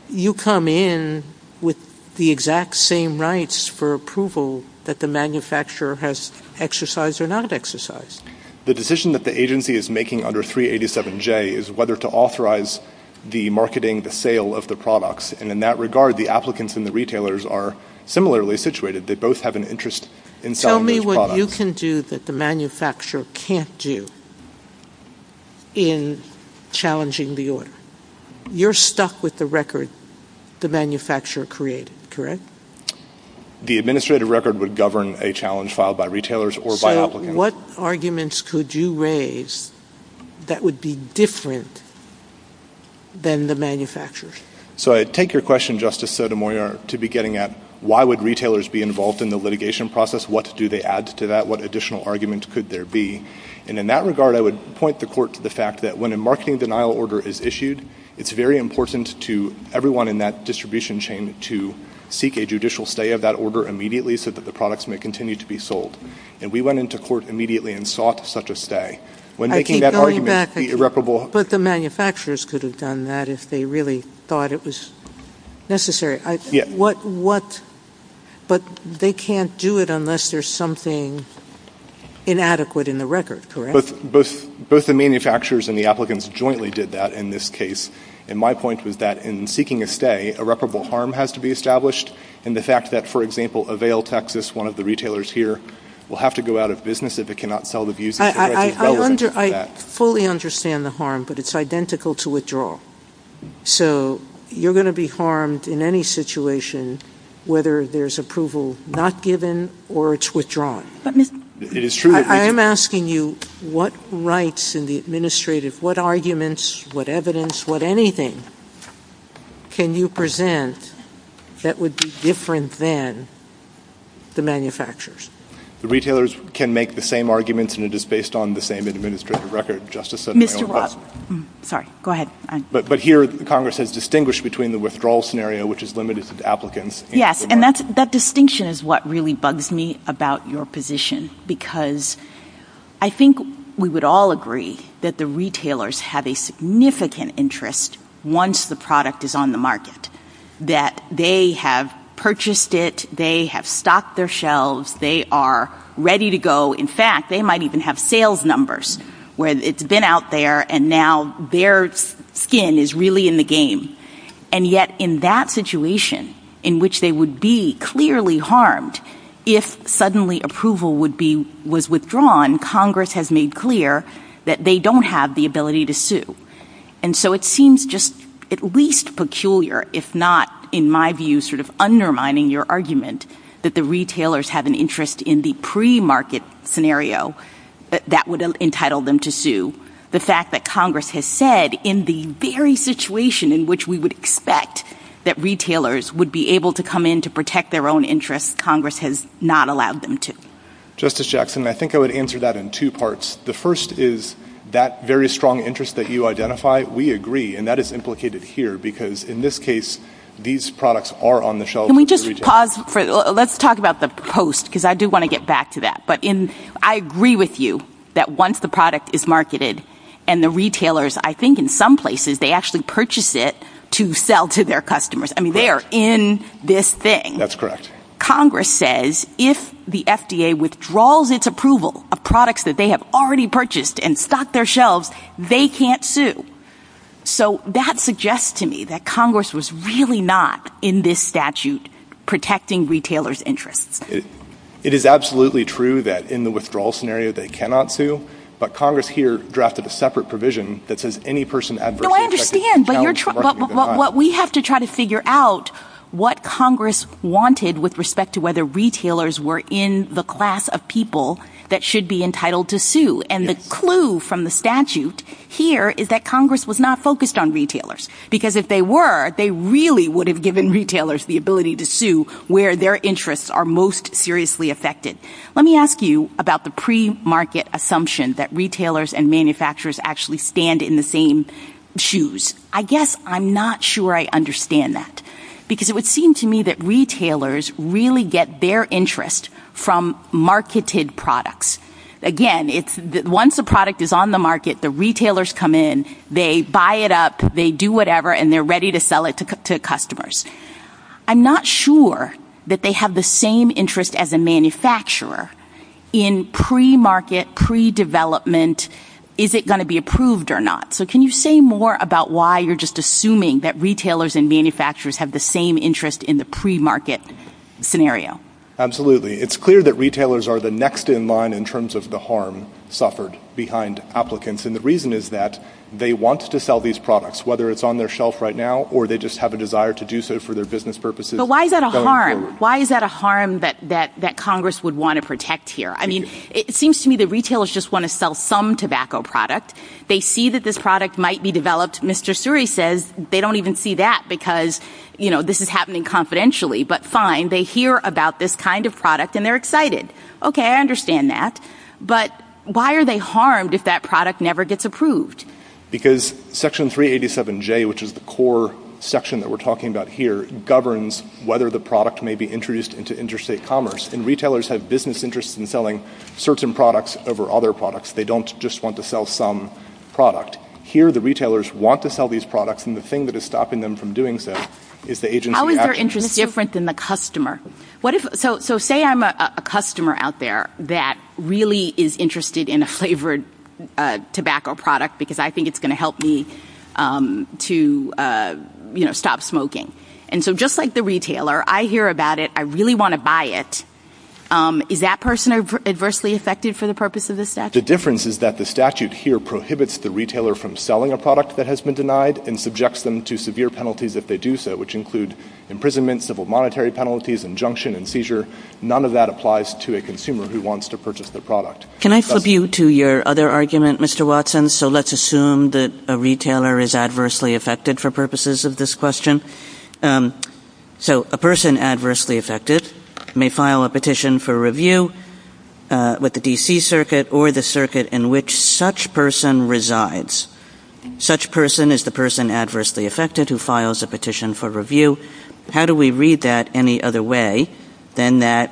You come in with the exact same rights for approval that the manufacturer has exercised or not exercised. The decision that the agency is making under 387J is whether to authorize the marketing, the sale of the products, and in that regard, the applicants and the retailers are similarly situated. They both have an interest in selling the product. Tell me what you can do that the manufacturer can't do in challenging the order. You're stuck with the record the manufacturer created, correct? The administrative record would govern a challenge filed by retailers or by applicants. What arguments could you raise that would be different than the manufacturer's? So I take your question, Justice Sotomayor, to be getting at why would retailers be involved in the litigation process? What do they add to that? What additional arguments could there be? And in that regard, I would point the court to the fact that when a marketing denial order is issued, it's very important to everyone in that distribution chain to seek a judicial stay of that order immediately so that the products may continue to be sold. And we went into court immediately and sought such a stay. When making that argument, the irreparable... But the manufacturers could have done that if they really thought it was necessary. But they can't do it unless there's something inadequate in the record, correct? Both the manufacturers and the applicants jointly did that in this case. And my point was that in seeking a stay, irreparable harm has to be established. And the fact that, for example, Avail, Texas, one of the retailers here, will have to go out of business if it cannot sell the business. I fully understand the harm, but it's identical to withdrawal. So you're going to be harmed in any situation whether there's approval not given or it's withdrawn. But, Mr... It is true that... I am asking you, what rights in the administrative, what arguments, what evidence, what anything can you present that would be different than the manufacturers? The retailers can make the same arguments, and it is based on the same administrative record, Justice Sotomayor. Sorry. Go ahead. But here, Congress has distinguished between the withdrawal scenario, which is limited to the applicants. Yes. And that distinction is what really bugs me about your position, because I think we would all agree that the retailers have a significant interest once the product is on the market, that they have purchased it, they have stocked their shelves, they are ready to go. In fact, they might even have sales numbers, where it's been out there, and now their skin is really in the game. And yet, in that situation, in which they would be clearly harmed, if suddenly approval was withdrawn, Congress has made clear that they don't have the ability to sue. And so it seems just at least peculiar, if not, in my view, sort of undermining your argument that the retailers have an interest in the pre-market scenario, that would entitle them to sue. The fact that Congress has said, in the very situation in which we would expect that retailers would be able to come in to protect their own interests, Congress has not allowed them to. Justice Jackson, I think I would answer that in two parts. The first is that very strong interest that you identify, we agree, and that is implicated here, because in this case, these products are on the shelves. Can we just pause, let's talk about the post, because I do want to get back to that, but I agree with you that once the product is marketed, and the retailers, I think in some places, they actually purchase it to sell to their customers, I mean, they are in this thing. That's correct. Congress says, if the FDA withdraws its approval of products that they have already purchased and stocked their shelves, they can't sue. So, that suggests to me that Congress was really not, in this statute, protecting retailers' interests. It is absolutely true that in the withdrawal scenario, they cannot sue, but Congress here drafted a separate provision that says any person adversely affected by the challenge of marketing their product... No, I understand, but we have to try to figure out what Congress wanted with respect to whether retailers were in the class of people that should be entitled to sue, and the clue from the statute here is that Congress was not focused on retailers, because if they were, they really would have given retailers the ability to sue where their interests are most seriously affected. Let me ask you about the pre-market assumption that retailers and manufacturers actually stand in the same shoes. I guess I'm not sure I understand that, because it would seem to me that retailers really get their interest from marketed products. Again, once the product is on the market, the retailers come in, they buy it up, they do whatever, and they're ready to sell it to customers. I'm not sure that they have the same interest as a manufacturer in pre-market, pre-development, is it going to be approved or not? So, can you say more about why you're just assuming that retailers and manufacturers have the same interest in the pre-market scenario? Absolutely. It's clear that retailers are the next in line in terms of the harm suffered behind applicants, and the reason is that they want to sell these products, whether it's on their shelf right now, or they just have a desire to do so for their business purposes. But why is that a harm? Why is that a harm that Congress would want to protect here? I mean, it seems to me that retailers just want to sell some tobacco product. They see that this product might be developed. Mr. Suri says they don't even see that, because this is happening confidentially, but fine. They hear about this kind of product, and they're excited. Okay, I understand that, but why are they harmed if that product never gets approved? Because Section 387J, which is the core section that we're talking about here, governs whether the product may be introduced into interstate commerce, and retailers have business interests in selling certain products over other products. They don't just want to sell some product. Here the retailers want to sell these products, and the thing that is stopping them from doing So say I'm a customer out there that really is interested in a flavored tobacco product, because I think it's going to help me to stop smoking. And so just like the retailer, I hear about it, I really want to buy it. Is that person adversely affected for the purpose of the statute? The difference is that the statute here prohibits the retailer from selling a product that has to do so, which include imprisonment, civil monetary penalties, injunction, and seizure. None of that applies to a consumer who wants to purchase the product. Can I flip you to your other argument, Mr. Watson? So let's assume that a retailer is adversely affected for purposes of this question. So a person adversely affected may file a petition for review with the D.C. Circuit or the circuit in which such person resides. Such person is the person adversely affected who files a petition for review. How do we read that any other way than that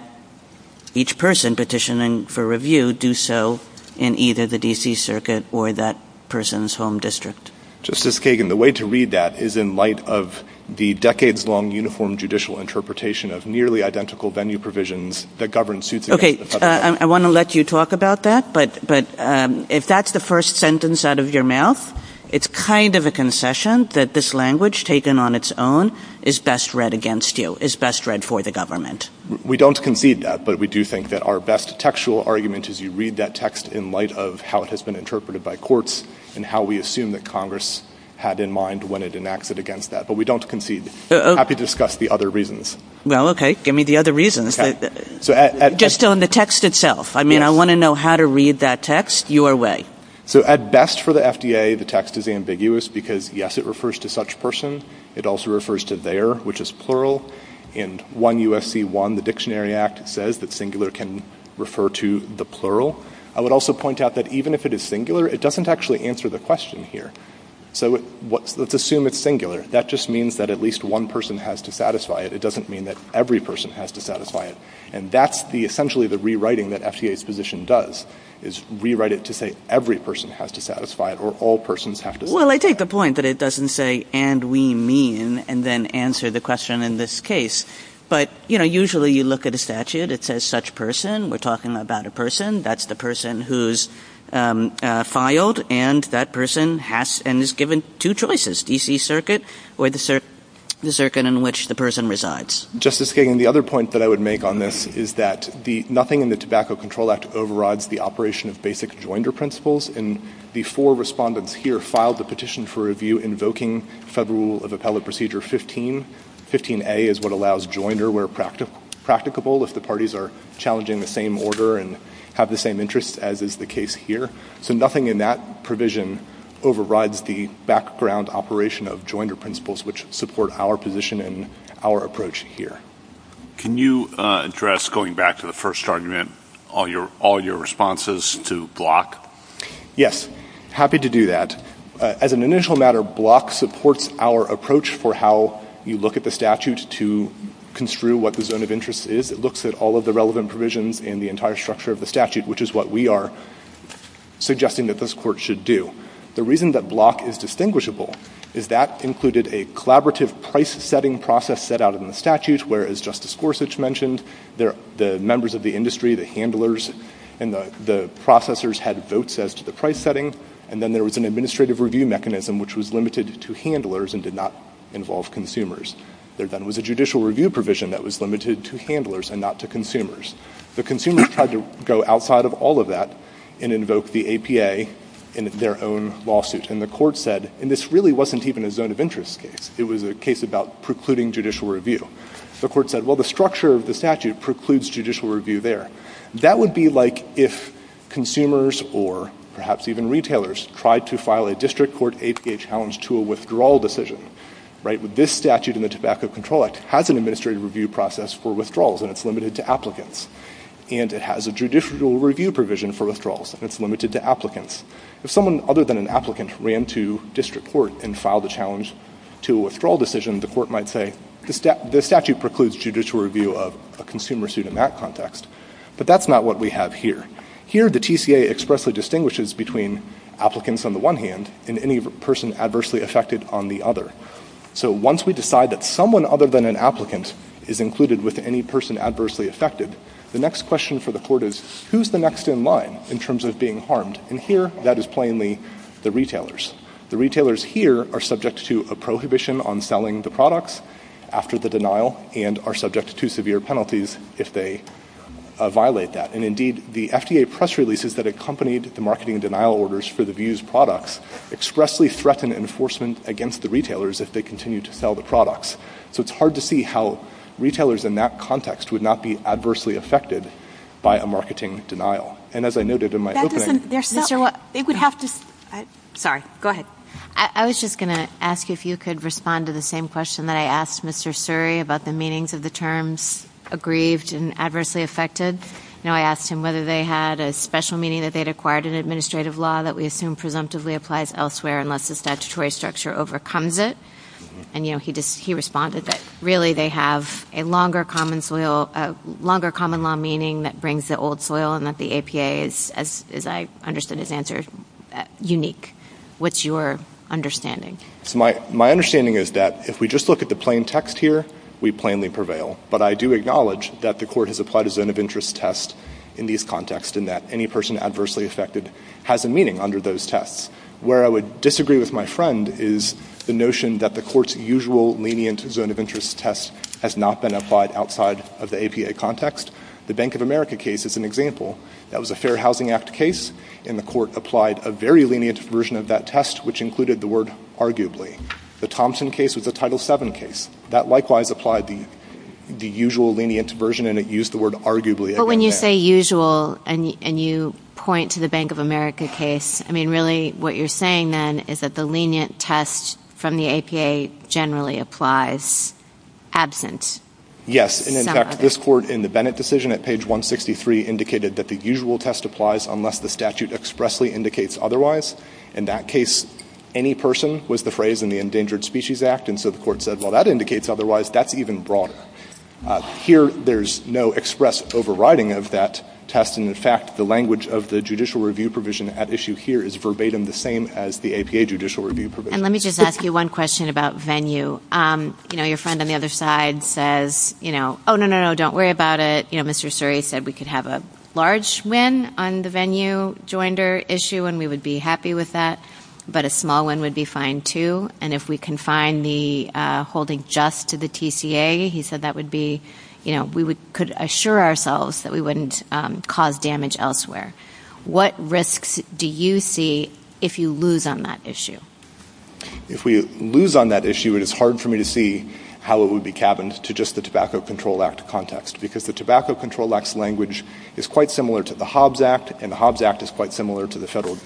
each person petitioning for review do so in either the D.C. Circuit or that person's home district? Justice Kagan, the way to read that is in light of the decades-long uniform judicial interpretation of nearly identical venue provisions that govern suitability of tobacco products. I want to let you talk about that, but if that's the first sentence out of your mouth, it's kind of a concession that this language taken on its own is best read against you, is best read for the government. We don't concede that, but we do think that our best textual argument is you read that text in light of how it has been interpreted by courts and how we assume that Congress had in mind when it enacted against that. But we don't concede. I'm happy to discuss the other reasons. Well, okay. Give me the other reasons. Just on the text itself. I mean, I want to know how to read that text your way. So, at best for the FDA, the text is ambiguous because, yes, it refers to such person. It also refers to their, which is plural. In 1 U.S.C. 1, the Dictionary Act says that singular can refer to the plural. I would also point out that even if it is singular, it doesn't actually answer the question here. So, let's assume it's singular. That just means that at least one person has to satisfy it. It doesn't mean that every person has to satisfy it. And that's essentially the rewriting that FDA's position does, is rewrite it to say every person has to satisfy it or all persons have to satisfy it. Well, I take the point that it doesn't say, and we mean, and then answer the question in this case. But, you know, usually you look at a statute, it says such person. We're talking about a person. That's the person who's filed and that person has and is given two choices, D.C. Circuit or the circuit in which the person resides. Justice Kagan, the other point that I would make on this is that nothing in the Tobacco Control Act overrides the operation of basic joinder principles. And the four respondents here filed the petition for review invoking Federal Rule of Appellate Procedure 15. 15A is what allows joinder where practicable if the parties are challenging the same order and have the same interests as is the case here. So nothing in that provision overrides the background operation of joinder principles which support our position and our approach here. Can you address, going back to the first argument, all your responses to Block? Yes. Happy to do that. As an initial matter, Block supports our approach for how you look at the statutes to construe what the zone of interest is. It looks at all of the relevant provisions in the entire structure of the statute, which is what we are suggesting that this Court should do. The reason that Block is distinguishable is that included a collaborative price-setting process set out in the statute, where, as Justice Gorsuch mentioned, the members of the industry, the handlers, and the processors had votes as to the price setting. And then there was an administrative review mechanism which was limited to handlers and did not involve consumers. There then was a judicial review provision that was limited to handlers and not to consumers. The consumers had to go outside of all of that and invoke the APA in their own lawsuits. And the Court said, and this really wasn't even a zone of interest case. It was a case about precluding judicial review. The Court said, well, the structure of the statute precludes judicial review there. That would be like if consumers or perhaps even retailers tried to file a district court APA challenge to a withdrawal decision. This statute in the Tobacco Control Act has an administrative review process for withdrawals and it's limited to applicants. And it has a judicial review provision for withdrawals and it's limited to applicants. If someone other than an applicant ran to district court and filed a challenge to a withdrawal decision, the Court might say, this statute precludes judicial review of a consumer suit in that context, but that's not what we have here. Here the TCA expressly distinguishes between applicants on the one hand and any person adversely affected on the other. So once we decide that someone other than an applicant is included with any person adversely affected, the next question for the Court is, who's the next in line in terms of being harmed? And here that is plainly the retailers. The retailers here are subject to a prohibition on selling the products after the denial and are subject to severe penalties if they violate that. And indeed, the FDA press releases that accompanied the marketing denial orders for the views of the retailers if they continue to sell the products. So it's hard to see how retailers in that context would not be adversely affected by a marketing denial. And as I noted in my opening... That doesn't... They're still... It would have to... Sorry. Go ahead. I was just going to ask if you could respond to the same question that I asked Mr. Suri about the meanings of the terms aggrieved and adversely affected. You know, I asked him whether they had a special meaning that they'd acquired in administrative law that we assume presumptively applies elsewhere unless the statutory structure overcomes it. And, you know, he responded that really they have a longer common law meaning that brings the old soil and that the APA is, as I understood his answer, unique. What's your understanding? My understanding is that if we just look at the plain text here, we plainly prevail. But I do acknowledge that the court has applied a zone of interest test in these contexts and that any person adversely affected has a meaning under those tests. Where I would disagree with my friend is the notion that the court's usual lenient zone of interest test has not been applied outside of the APA context. The Bank of America case is an example. That was a Fair Housing Act case and the court applied a very lenient version of that test which included the word arguably. The Thompson case was a Title VII case. That likewise applied the usual lenient version and it used the word arguably. But when you say usual and you point to the Bank of America case, I mean, really what you're saying then is that the lenient test from the APA generally applies absent. Yes. And, in fact, this court in the Bennett decision at page 163 indicated that the usual test applies unless the statute expressly indicates otherwise. In that case, any person was the phrase in the Endangered Species Act. And so the court said, well, that indicates otherwise. That's even broad. Here, there's no express overriding of that test. And, in fact, the language of the judicial review provision at issue here is verbatim the same as the APA judicial review provision. And let me just ask you one question about venue. You know, your friend on the other side says, you know, oh, no, no, no, don't worry about it. You know, Mr. Suri said we could have a large win on the venue joinder issue and we would be happy with that. But a small one would be fine, too. And if we confine the holding just to the TCA, he said that would be, you know, we could assure ourselves that we wouldn't cause damage elsewhere. What risks do you see if you lose on that issue? If we lose on that issue, it is hard for me to see how it would be cabined to just the Tobacco Control Act context, because the Tobacco Control Act's language is quite similar to the Hobbs Act, and the Hobbs Act is quite similar to the Federal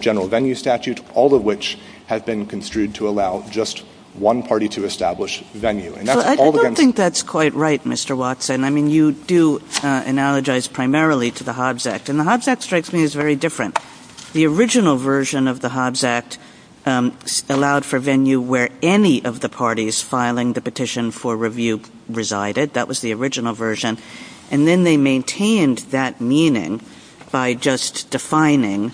General Venue Statute, all of which have been construed to allow just one party to establish venue. I don't think that's quite right, Mr. Watson. I mean, you do analogize primarily to the Hobbs Act, and the Hobbs Act strikes me as very different. The original version of the Hobbs Act allowed for venue where any of the parties filing the petition for review resided. That was the original version. And then they maintained that meaning by just defining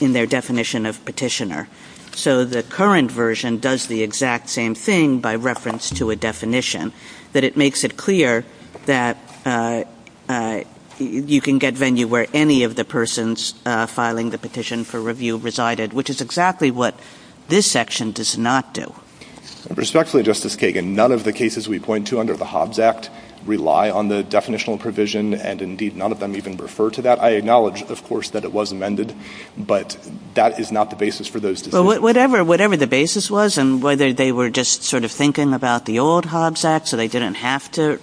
in their definition of petitioner. So the current version does the exact same thing by reference to a definition, but it makes it clear that you can get venue where any of the persons filing the petition for review resided, which is exactly what this section does not do. Respectfully, Justice Kagan, none of the cases we point to under the Hobbs Act rely on the definitional provision, and indeed, none of them even refer to that. I acknowledge, of course, that it was amended, but that is not the basis for those. Well, whatever the basis was and whether they were just sort of thinking about the old Hobbs Act so they didn't have to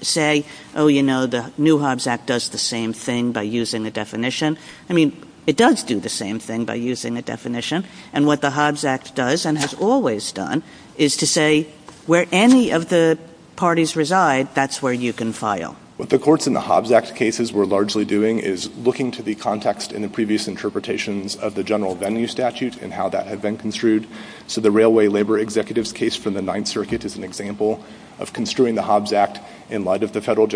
say, oh, you know, the new Hobbs Act does the same thing by using a definition. I mean, it does do the same thing by using a definition. And what the Hobbs Act does and has always done is to say where any of the parties reside, that's where you can file. What the courts in the Hobbs Act cases were largely doing is looking to the context in the previous interpretations of the general venue statute and how that had been construed. So the Railway Labor Executives case from the Ninth Circuit is an example of construing the Hobbs Act in light of the federal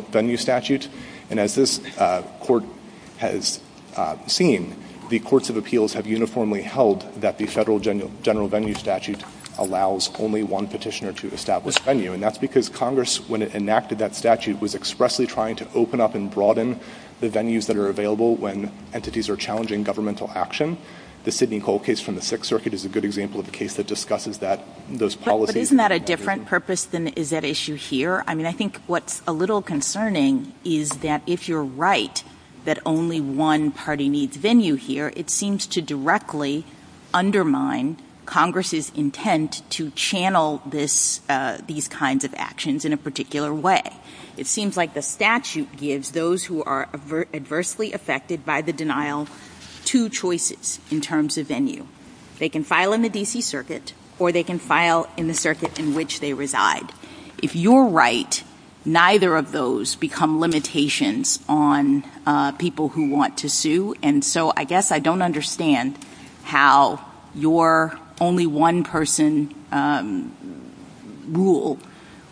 venue statute, and as this court has seen, the courts of appeals have uniformly held that the federal general venue statute allows only one petitioner to establish venue. And that's because Congress, when it enacted that statute, was expressly trying to open up and broaden the venues that are available when entities are challenging governmental action. The Sydney Coal case from the Sixth Circuit is a good example of a case that discusses that, those policies. But isn't that a different purpose than is at issue here? I mean, I think what's a little concerning is that if you're right that only one party needs venue here, it seems to directly undermine Congress's intent to channel these kinds of actions in a particular way. It seems like the statute gives those who are adversely affected by the denial two choices in terms of venue. They can file in the D.C. Circuit or they can file in the circuit in which they reside. If you're right, neither of those become limitations on people who want to sue. And so I guess I don't understand how your only-one-person rule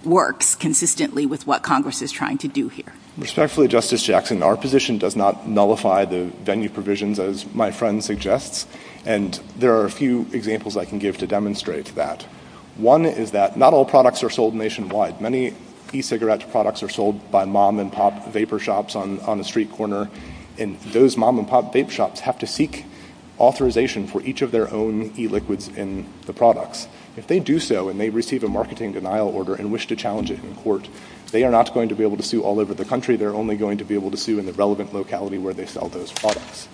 works consistently with what Congress is trying to do here. Respectfully, Justice Jackson, our position does not nullify the venue provision, as my friend suggests, and there are a few examples I can give to demonstrate that. One is that not all products are sold nationwide. Many e-cigarette products are sold by mom-and-pop vapor shops on a street corner, and those mom-and-pop vape shops have to seek authorization for each of their own e-liquids in the products. If they do so and they receive a marketing denial order and wish to challenge it in court, they are not going to be able to sue all over the country. They're only going to be able to sue in the relevant locality where they sell those products.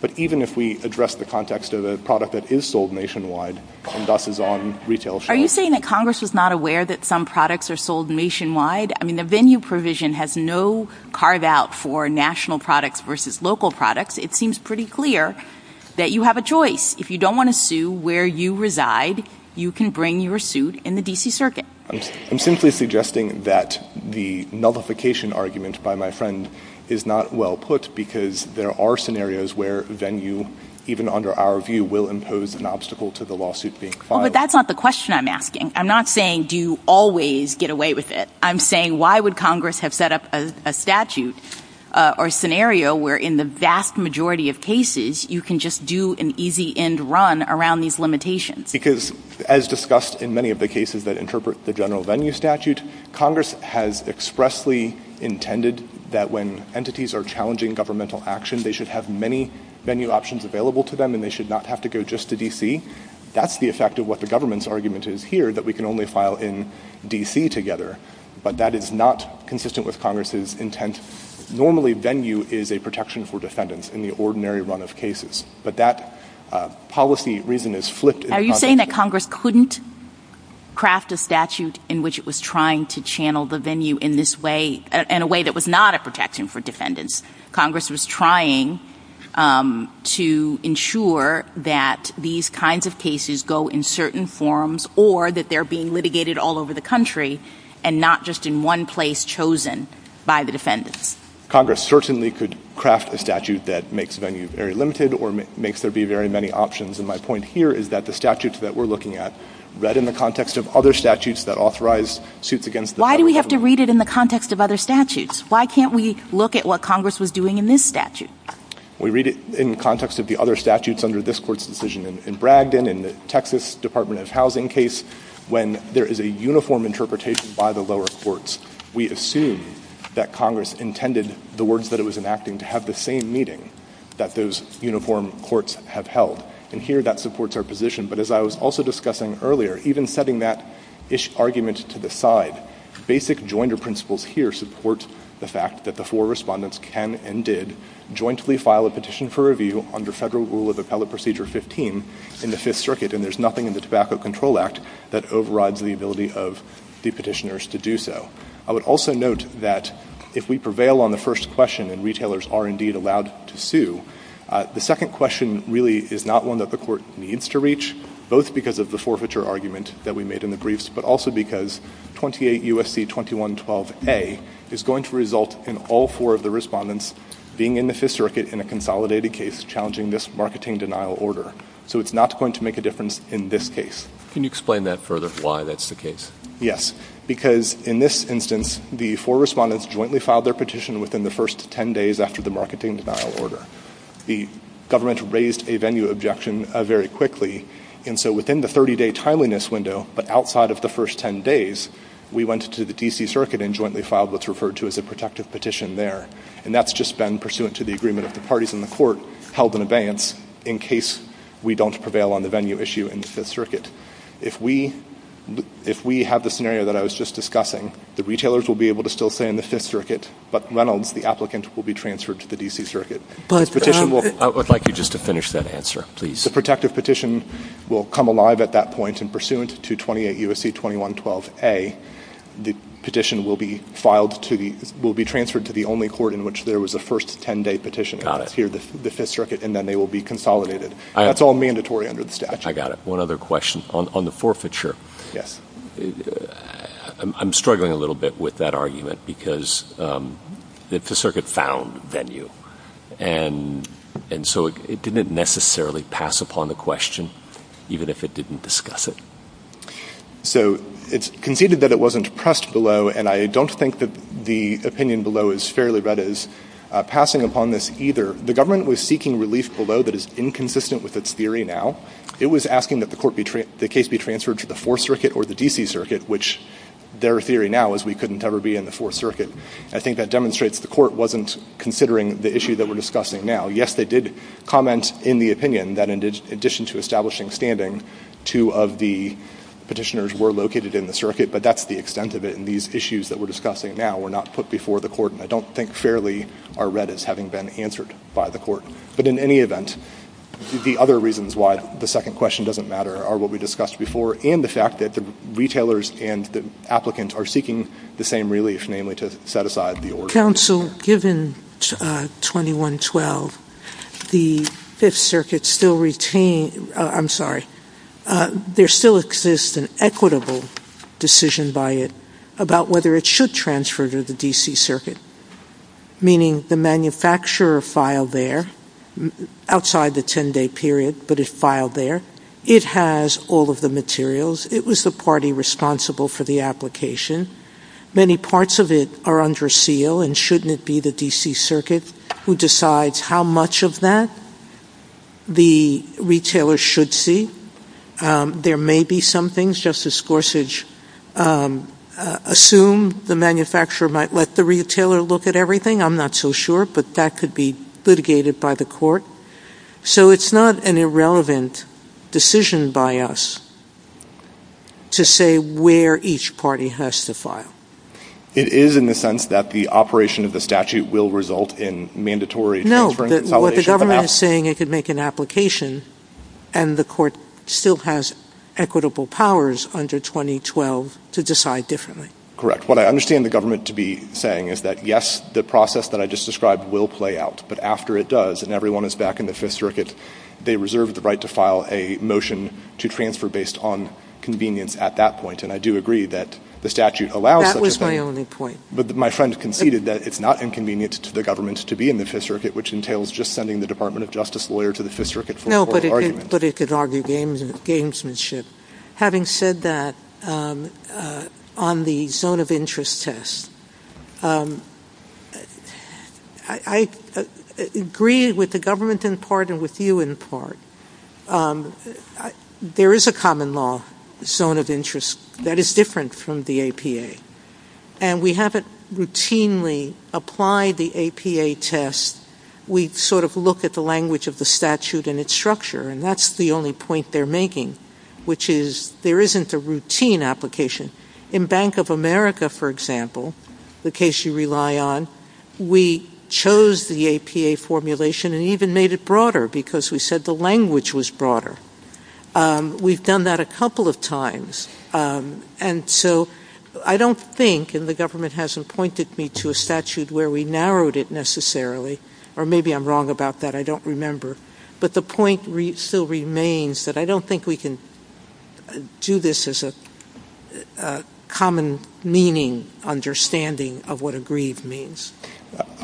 But even if we address the context of a product that is sold nationwide and thus is on retail shelves... Are you saying that Congress is not aware that some products are sold nationwide? I mean, the venue provision has no carve-out for national products versus local products. It seems pretty clear that you have a choice. If you don't want to sue where you reside, you can bring your suit in the D.C. Circuit. I'm simply suggesting that the nullification argument by my friend is not well put because there are scenarios where venue, even under our view, will impose an obstacle to the lawsuit being filed. Well, but that's not the question I'm asking. I'm not saying do you always get away with it. I'm saying why would Congress have set up a statute or scenario where in the vast majority of cases you can just do an easy end run around these limitations? Because as discussed in many of the cases that interpret the general venue statute, Congress has expressly intended that when entities are challenging governmental action, they should have many venue options available to them and they should not have to go just to D.C. That's the effect of what the government's argument is here that we can only file in D.C. together, but that is not consistent with Congress's intent. Normally, venue is a protection for defendants in the ordinary run of cases, but that policy reason is flipped. Are you saying that Congress couldn't craft a statute in which it was trying to channel the venue in this way, in a way that was not a protection for defendants? Congress was trying to ensure that these kinds of cases go in certain forms or that they're being litigated all over the country and not just in one place chosen by the defendants? Congress certainly could craft a statute that makes venues very limited or makes there be very many options. My point here is that the statutes that we're looking at, read in the context of other statutes that authorize suits against the federal government. Why do we have to read it in the context of other statutes? Why can't we look at what Congress was doing in this statute? We read it in context of the other statutes under this court's decision in Bragdon, in the Texas Department of Housing case, when there is a uniform interpretation by the lower courts. We assume that Congress intended the words that it was enacting to have the same meaning that those uniform courts have held. Here, that supports our position, but as I was also discussing earlier, even setting that ish argument to the side, basic joinder principles here support the fact that the four respondents can and did jointly file a petition for review under federal rule of appellate procedure 15 in the Fifth Circuit. There's nothing in the Tobacco Control Act that overrides the ability of the petitioners to do so. I would also note that if we prevail on the first question and retailers are indeed allowed to sue, the second question really is not one that the court needs to reach, both because of the forfeiture argument that we made in the briefs, but also because 28 U.S.C. 2112 A is going to result in all four of the respondents being in the Fifth Circuit in a consolidated case challenging this marketing denial order. So it's not going to make a difference in this case. Can you explain that further, why that's the case? Yes, because in this instance, the four respondents jointly filed their petition within the first 10 days after the marketing denial order. The government raised a venue objection very quickly, and so within the 30-day timeliness window, but outside of the first 10 days, we went to the D.C. Circuit and jointly filed what's referred to as a protective petition there, and that's just been pursuant to the agreement of the parties in the court held in advance in case we don't prevail on the venue issue in the Fifth Circuit. If we have the scenario that I was just discussing, the retailers will be able to still say in the Fifth Circuit, but Reynolds, the applicant, will be transferred to the D.C. Circuit. I would like you just to finish that answer, please. The protective petition will come alive at that point, and pursuant to 28 U.S.C. 2112 A, the petition will be transferred to the only court in which there was a first 10-day petition in the Fifth Circuit, and then they will be consolidated. That's all mandatory under the statute. One other question. On the forfeiture, I'm struggling a little bit with that argument because it's a circuit-found venue, and so it didn't necessarily pass upon the question, even if it didn't discuss it. So it's conceded that it wasn't pressed below, and I don't think that the opinion below is fairly good as passing upon this either. The government was seeking relief below that is inconsistent with its theory now. It was asking that the case be transferred to the Fourth Circuit or the D.C. Circuit, which their theory now is we couldn't ever be in the Fourth Circuit. I think that demonstrates the court wasn't considering the issue that we're discussing now. Yes, they did comment in the opinion that in addition to establishing standing, two of the petitioners were located in the circuit, but that's the extent of it, and these issues that we're discussing now were not put before the court, and I don't think fairly are read as having been answered by the court. But in any event, the other reasons why the second question doesn't matter are what we discussed before and the fact that the retailers and the applicants are seeking the same relief, namely to set aside the order. Counsel, given 2112, the Fifth Circuit still retained, I'm sorry, there still exists an equitable decision by it about whether it should transfer to the D.C. Circuit, meaning the manufacturer filed there outside the 10-day period, but it filed there. It has all of the materials. It was the party responsible for the application. Many parts of it are under seal, and shouldn't it be the D.C. Circuit who decides how much of that the retailer should see? There may be some things, Justice Gorsuch, assume the manufacturer might let the retailer look at everything. I'm not so sure, but that could be litigated by the court. So it's not an irrelevant decision by us to say where each party has to file. It is in the sense that the operation of the statute will result in mandatory transfer and consolidation of the map. No, what the government is saying, it could make an application, and the court still has equitable powers under 2012 to decide differently. Correct. What I understand the government to be saying is that, yes, the process that I just described will play out, but after it does, and everyone is back in the Fifth Circuit, they reserve the right to file a motion to transfer based on convenience at that point, and I do agree that the statute allows such a thing. That was my only point. But my friend conceded that it's not inconvenient to the government to be in the Fifth Circuit, which entails just sending the Department of Justice lawyer to the Fifth Circuit for No, but it could argue gamesmanship. Having said that, on the zone of interest test, I agree with the government in part and with you in part. There is a common law zone of interest that is different from the APA, and we haven't routinely applied the APA test. We sort of look at the language of the statute and its structure, and that's the only point they're making, which is there isn't a routine application. In Bank of America, for example, the case you rely on, we chose the APA formulation and even made it broader because we said the language was broader. We've done that a couple of times. And so I don't think, and the government hasn't pointed me to a statute where we narrowed it necessarily, or maybe I'm wrong about that, I don't remember, but the point still remains that I don't think we can do this as a common meaning understanding of what aggrieved means.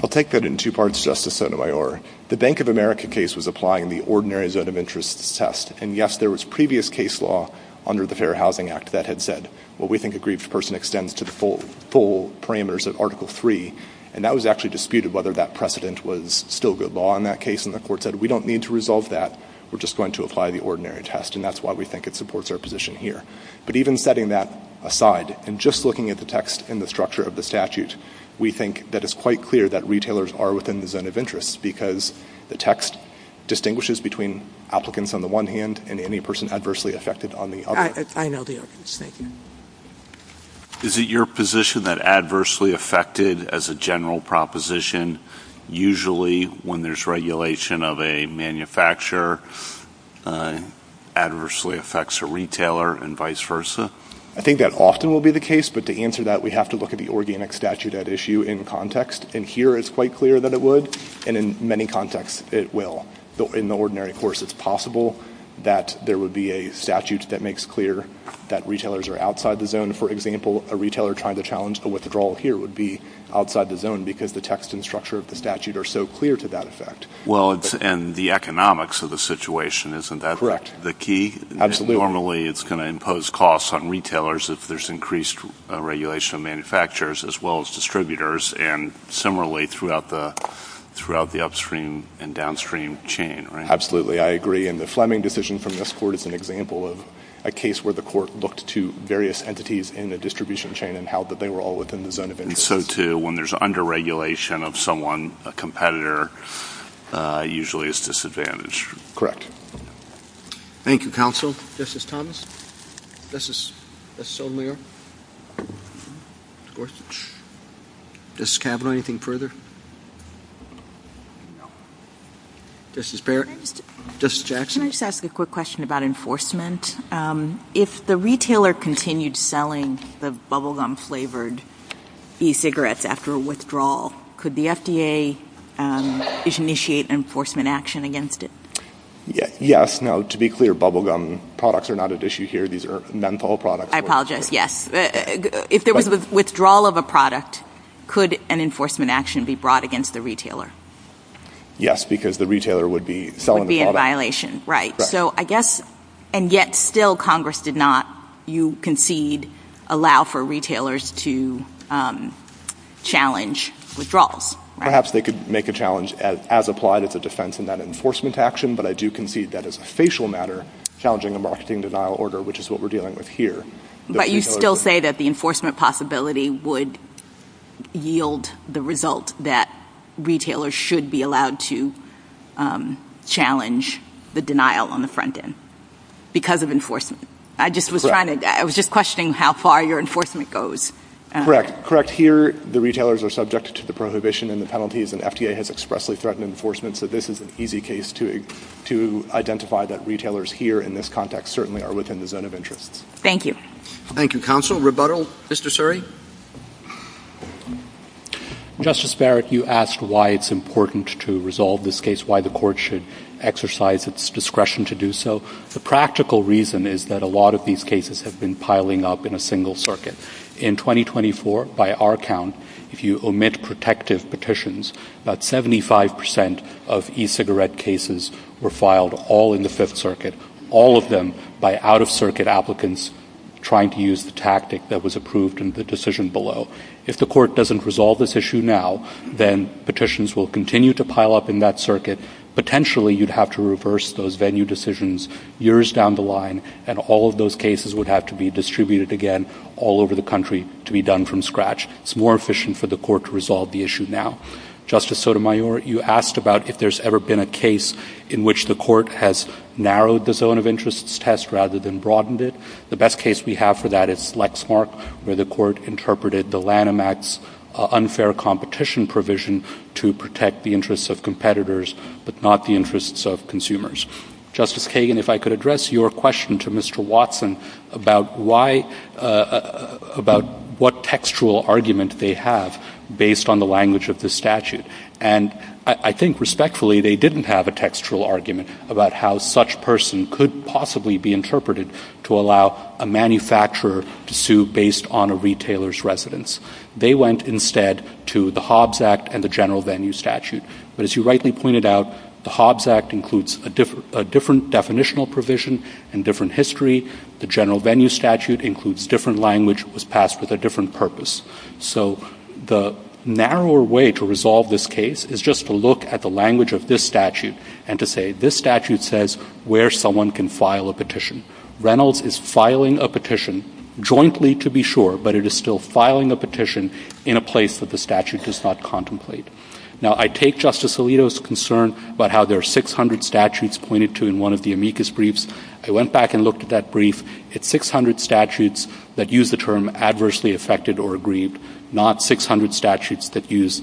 I'll take that in two parts, Justice Sotomayor. The Bank of America case was applying the ordinary zone of interest test, and yes, there was previous case law under the Fair Housing Act that had said, well, we think aggrieved person extends to the full parameters of Article III, and that was actually disputed whether that precedent was still good law in that case, and the court said, we don't need to resolve that. We're just going to apply the ordinary test, and that's why we think it supports our position here. But even setting that aside and just looking at the text and the structure of the statute, we think that it's quite clear that retailers are within the zone of interest because the text distinguishes between applicants on the one hand and any person adversely affected on the other. I know the arguments. Thank you. Is it your position that adversely affected as a general proposition, usually when there's a regulation of a manufacturer, adversely affects a retailer and vice versa? I think that often will be the case, but to answer that, we have to look at the organic statute at issue in context, and here it's quite clear that it would, and in many contexts it will. In the ordinary, of course, it's possible that there would be a statute that makes clear that retailers are outside the zone. For example, a retailer trying to challenge a withdrawal here would be outside the zone because the text and structure of the statute are so clear to that effect. Well, and the economics of the situation, isn't that the key? Absolutely. Normally it's going to impose costs on retailers if there's increased regulation of manufacturers as well as distributors, and similarly throughout the upstream and downstream chain, right? Absolutely. I agree, and the Fleming decision from this court is an example of a case where the court looked to various entities in the distribution chain and held that they were all within the zone of interest. And so when there's under-regulation of someone, a competitor, usually is disadvantaged. Thank you, counsel. Justice Thomas? Justice O'Meara? Justice Kavanaugh, anything further? No. Justice Barrett? Justice Jackson? Can I just ask a quick question about enforcement? If the retailer continued selling the bubblegum flavored e-cigarettes after a withdrawal, could the FDA initiate enforcement action against it? Yes. Now, to be clear, bubblegum products are not at issue here. These are menthol products. I apologize. Yes. If there was a withdrawal of a product, could an enforcement action be brought against the Yes, because the retailer would be selling the product. Would be in violation. Right. So I guess, and yet still Congress did not, you concede, allow for retailers to challenge withdrawals. Perhaps they could make a challenge as applied as a defense in that enforcement action, but I do concede that as a facial matter, challenging a marketing denial order, which is what we're dealing with here. But you still say that the enforcement possibility would yield the result that retailers should be allowed to challenge the denial on the front end because of enforcement. I was just questioning how far your enforcement goes. Correct. Correct. Here, the retailers are subject to the prohibition and the penalties, and FDA has expressly threatened enforcement, so this is an easy case to identify that retailers here in this context certainly are within the zone of interest. Thank you. Thank you, counsel. Rebuttal, Mr. Suri? Justice Barrack, you asked why it's important to resolve this case, why the court should exercise its discretion to do so. The practical reason is that a lot of these cases have been piling up in a single circuit. In 2024, by our count, if you omit protective petitions, about 75% of e-cigarette cases were filed all in the Fifth Circuit, all of them by out-of-circuit applicants trying to use the tactic that was approved in the decision below. If the court doesn't resolve this issue now, then petitions will continue to pile up in that circuit. Potentially, you'd have to reverse those venue decisions years down the line, and all of those cases would have to be distributed again all over the country to be done from scratch. It's more efficient for the court to resolve the issue now. Justice Sotomayor, you asked about if there's ever been a case in which the court has narrowed the zone of interest test rather than broadened it. The best case we have for that is Lexmark, where the court interpreted the Lanham Act's unfair competition provision to protect the interests of competitors but not the interests of consumers. Justice Kagan, if I could address your question to Mr. Watson about what textual argument they have based on the language of the statute. I think respectfully, they didn't have a textual argument about how such a person could possibly be interpreted to allow a manufacturer to sue based on a retailer's residence. They went instead to the Hobbs Act and the General Venue Statute. But as you rightly pointed out, the Hobbs Act includes a different definitional provision and different history. The General Venue Statute includes different language. It was passed with a different purpose. So the narrower way to resolve this case is just to look at the language of this statute and to say this statute says where someone can file a petition. Reynolds is filing a petition jointly to be sure, but it is still filing a petition in a place that the statute does not contemplate. Now, I take Justice Alito's concern about how there are 600 statutes pointed to in one of the amicus briefs. I went back and looked at that brief. It's 600 statutes that use the term adversely affected or aggrieved, not 600 statutes that use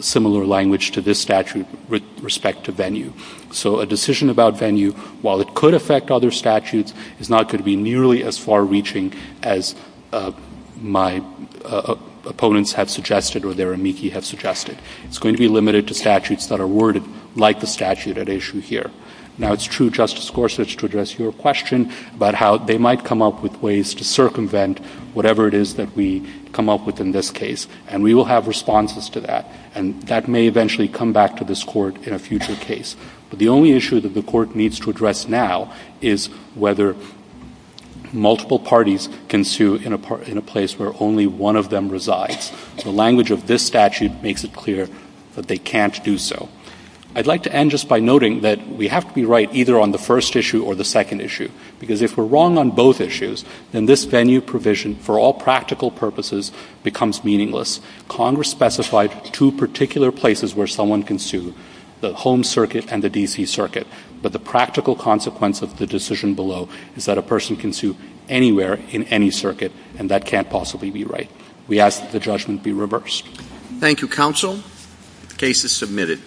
similar language to this statute with respect to venue. So a decision about venue, while it could affect other statutes, is not going to be nearly as far-reaching as my opponents have suggested or their amici have suggested. It's going to be limited to statutes that are worded like the statute at issue here. Now, it's true, Justice Gorsuch, to address your question about how they might come up with ways to circumvent whatever it is that we come up with in this case. And we will have responses to that. And that may eventually come back to this Court in a future case. But the only issue that the Court needs to address now is whether multiple parties can sue in a place where only one of them resides. The language of this statute makes it clear that they can't do so. I'd like to end just by noting that we have to be right either on the first issue or the second issue, because if we're wrong on both issues, then this venue provision, for all practical purposes, becomes meaningless. Congress specified two particular places where someone can sue, the Home Circuit and the D.C. Circuit. But the practical consequence of the decision below is that a person can sue anywhere in any circuit, and that can't possibly be right. We ask that the judgment be reversed. Thank you, Counsel. The case is submitted.